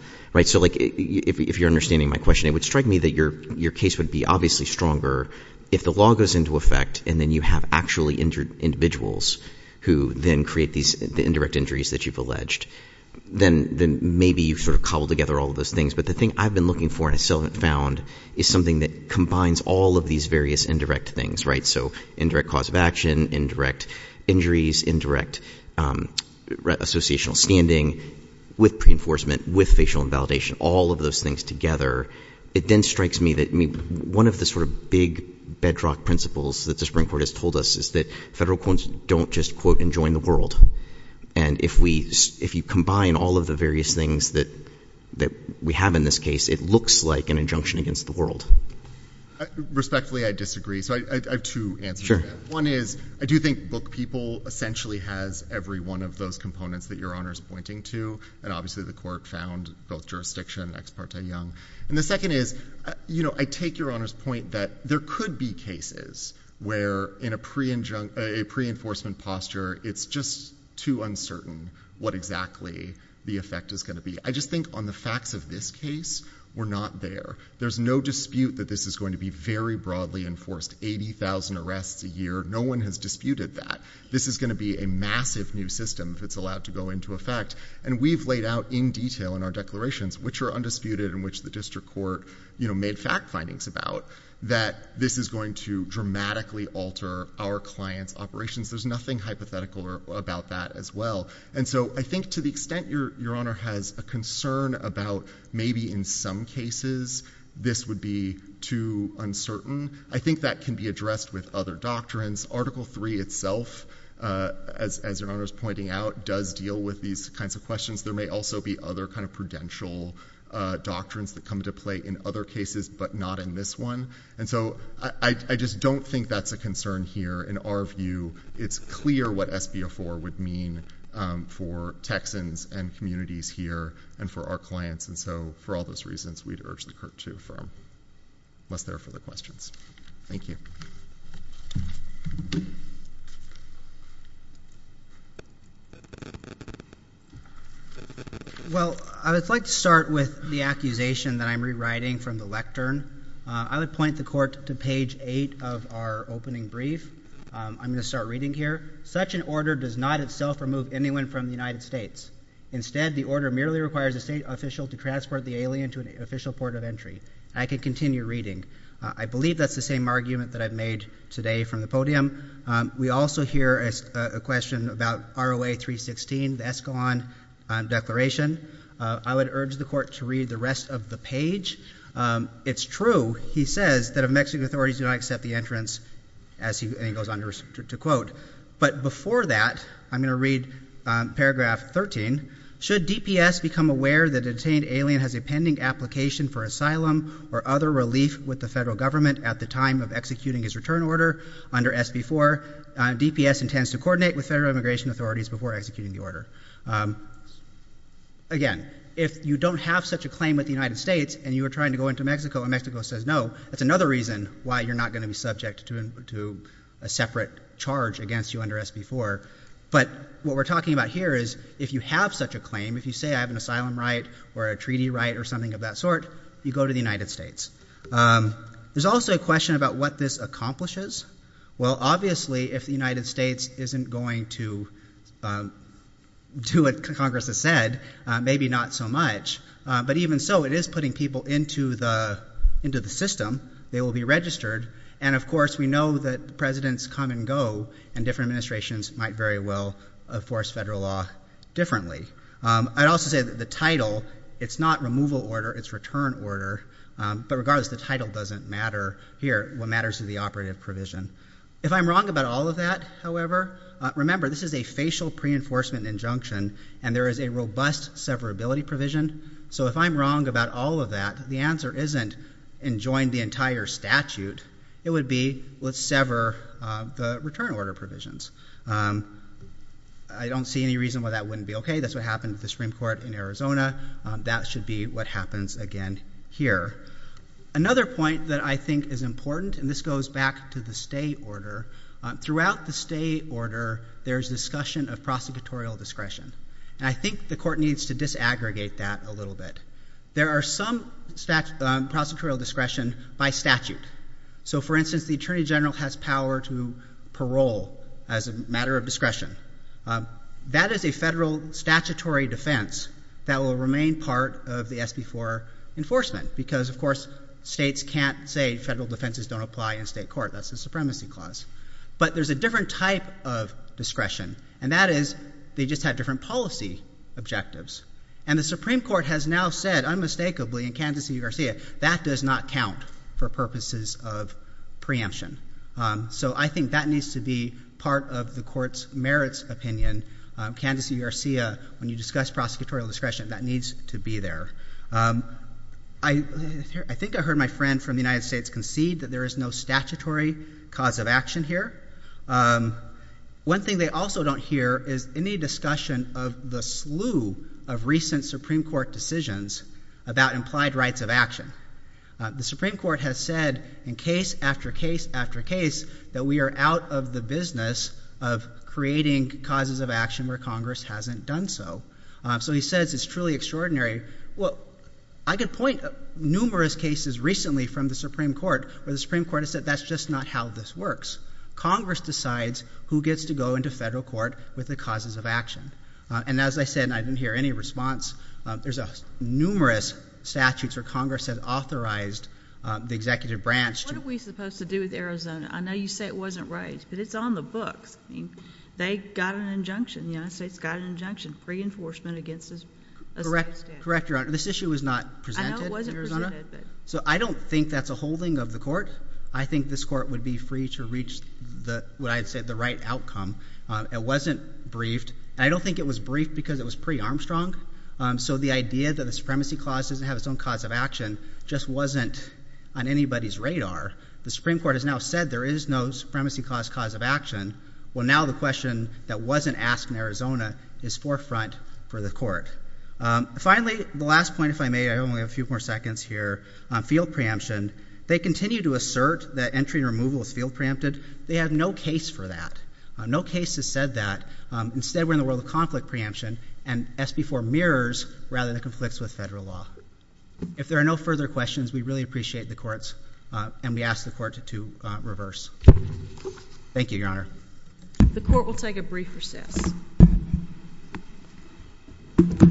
So if you're understanding my question, it would strike me that your case would be obviously stronger if the law goes into effect and then you have actually injured individuals who then create these indirect injuries that you've alleged. Then maybe you sort of cobble together all of those things. But the thing I've been looking for and I still haven't found is something that combines all of these various indirect things, right? So indirect cause of action, indirect injuries, indirect associational standing with pre-enforcement, with facial invalidation, all of those things together. It then strikes me that one of the sort of big bedrock principles that the Supreme Court has told us is that federal courts don't just quote and join the world. And if you combine all of the various things that we have in this case, it looks like an injunction against the world. Respectfully, I disagree. So I have two answers to that. One is I do think book people essentially has every one of those components that Your Honor is pointing to. And obviously the court found both jurisdiction and ex parte young. And the second is, I take Your Honor's point that there could be cases where in a pre-enforcement posture, it's just too uncertain what exactly the effect is going to be. I just think on the facts of this case, we're not there. There's no dispute that this is going to be very broadly enforced, 80,000 arrests a year. No one has disputed that. This is going to be a massive new system if it's allowed to go into effect. And we've laid out in detail in our declarations, which are undisputed and which the district court made fact findings about, that this is going to dramatically alter our client's operations. There's nothing hypothetical about that as well. And so I think to the extent Your Honor has a concern about maybe in some cases this would be too uncertain, I think that can be addressed with other doctrines. Article 3 itself, as Your Honor's pointing out, does deal with these kinds of questions. There may also be other kind of prudential doctrines that come into play in other cases, but not in this one. And so I just don't think that's a concern here. In our view, it's clear what SB04 would mean for Texans and communities here and for our clients. And so for all those reasons, we'd urge the court to affirm, unless there are further questions. Thank you. Well, I would like to start with the accusation that I'm rewriting from the lectern. I would point the court to page 8 of our opening brief. I'm going to start reading here. Such an order does not itself remove anyone from the United States. Instead, the order merely requires a state official to transport the alien to an official port of entry. I can continue reading. I believe that's the same argument that I've made today from the podium. We also hear a question about ROA 316, the Escalon Declaration. I would urge the court to read the rest of the page. It's true, he says, that if Mexican authorities do not accept the entrance, as he goes on to quote. But before that, I'm going to read paragraph 13. Should DPS become aware that a detained alien has a pending application for asylum or other relief with the federal government at the time of executing his return order under SB 4. DPS intends to coordinate with federal immigration authorities before executing the order. Again, if you don't have such a claim with the United States and you are trying to go into Mexico and Mexico says no, that's another reason why you're not going to be subject to a separate charge against you under SB 4. But what we're talking about here is if you have such a claim, if you say I have an asylum right or a treaty right or something of that sort, you go to the United States. There's also a question about what this accomplishes. Well, obviously, if the United States isn't going to do what Congress has said, maybe not so much. But even so, it is putting people into the system. They will be registered. And of course, we know that presidents come and go, and different administrations might very well enforce federal law differently. I'd also say that the title, it's not removal order. It's return order. But regardless, the title doesn't matter here. What matters is the operative provision. If I'm wrong about all of that, however, remember, this is a facial pre-enforcement injunction, and there is a robust severability provision. So if I'm wrong about all of that, the answer isn't enjoin the entire statute. It would be let's sever the return order provisions. I don't see any reason why that wouldn't be OK. That's what happened to the Supreme Court in Arizona. That should be what happens again here. Another point that I think is important, and this goes back to the stay order, throughout the stay order, there's discussion of prosecutorial discretion. And I think the court needs to disaggregate that a little bit. There are some prosecutorial discretion by statute. So for instance, the attorney general has power to parole as a matter of discretion. That is a federal statutory defense that will remain part of the SB4 enforcement, because of course states can't say federal defenses don't apply in state court. That's a supremacy clause. But there's a different type of discretion, and that is they just have different policy objectives. And the Supreme Court has now said, unmistakably, in Kansas v. Garcia, that does not count for purposes of preemption. So I think that needs to be part of the court's merits opinion. Kansas v. Garcia, when you discuss prosecutorial discretion, that needs to be there. I think I heard my friend from the United States concede that there is no statutory cause of action here. One thing they also don't hear is any discussion of the slew of recent Supreme Court decisions about implied rights of action. The Supreme Court has said in case after case after case that we are out of the business of creating causes of action where Congress hasn't done so. So he says it's truly extraordinary. I can point numerous cases recently from the Supreme Court where the Supreme Court has said that's just not how this works. Congress decides who gets to go into federal court with the causes of action. And as I said, and I didn't hear any response, there's numerous statutes where Congress has authorized the executive branch to— What are we supposed to do with Arizona? I know you say it wasn't raised, but it's on the books. They got an injunction. The United States got an injunction, pre-enforcement against a state statute. Correct, correct, Your Honor. This issue was not presented in Arizona. I know it wasn't presented, but— So I don't think that's a holding of the court. I think this court would be free to reach what I'd say the right outcome. It wasn't briefed. And I don't think it was briefed because it was pre-Armstrong. So the idea that the supremacy clause doesn't have its own cause of action just wasn't on anybody's radar. The Supreme Court has now said there is no supremacy clause cause of action. Well, now the question that wasn't asked in Arizona is forefront for the court. Finally, the last point, if I may, I only have a few more seconds here, field preemption. They continue to assert that entry and removal is field preempted. They have no case for that. No case has said that. Instead, we're in the world of conflict preemption, and SB 4 mirrors rather than conflicts with federal law. If there are no further questions, we really appreciate the courts, and we ask the court to reverse. Thank you, Your Honor. The court will take a brief recess. Thank you.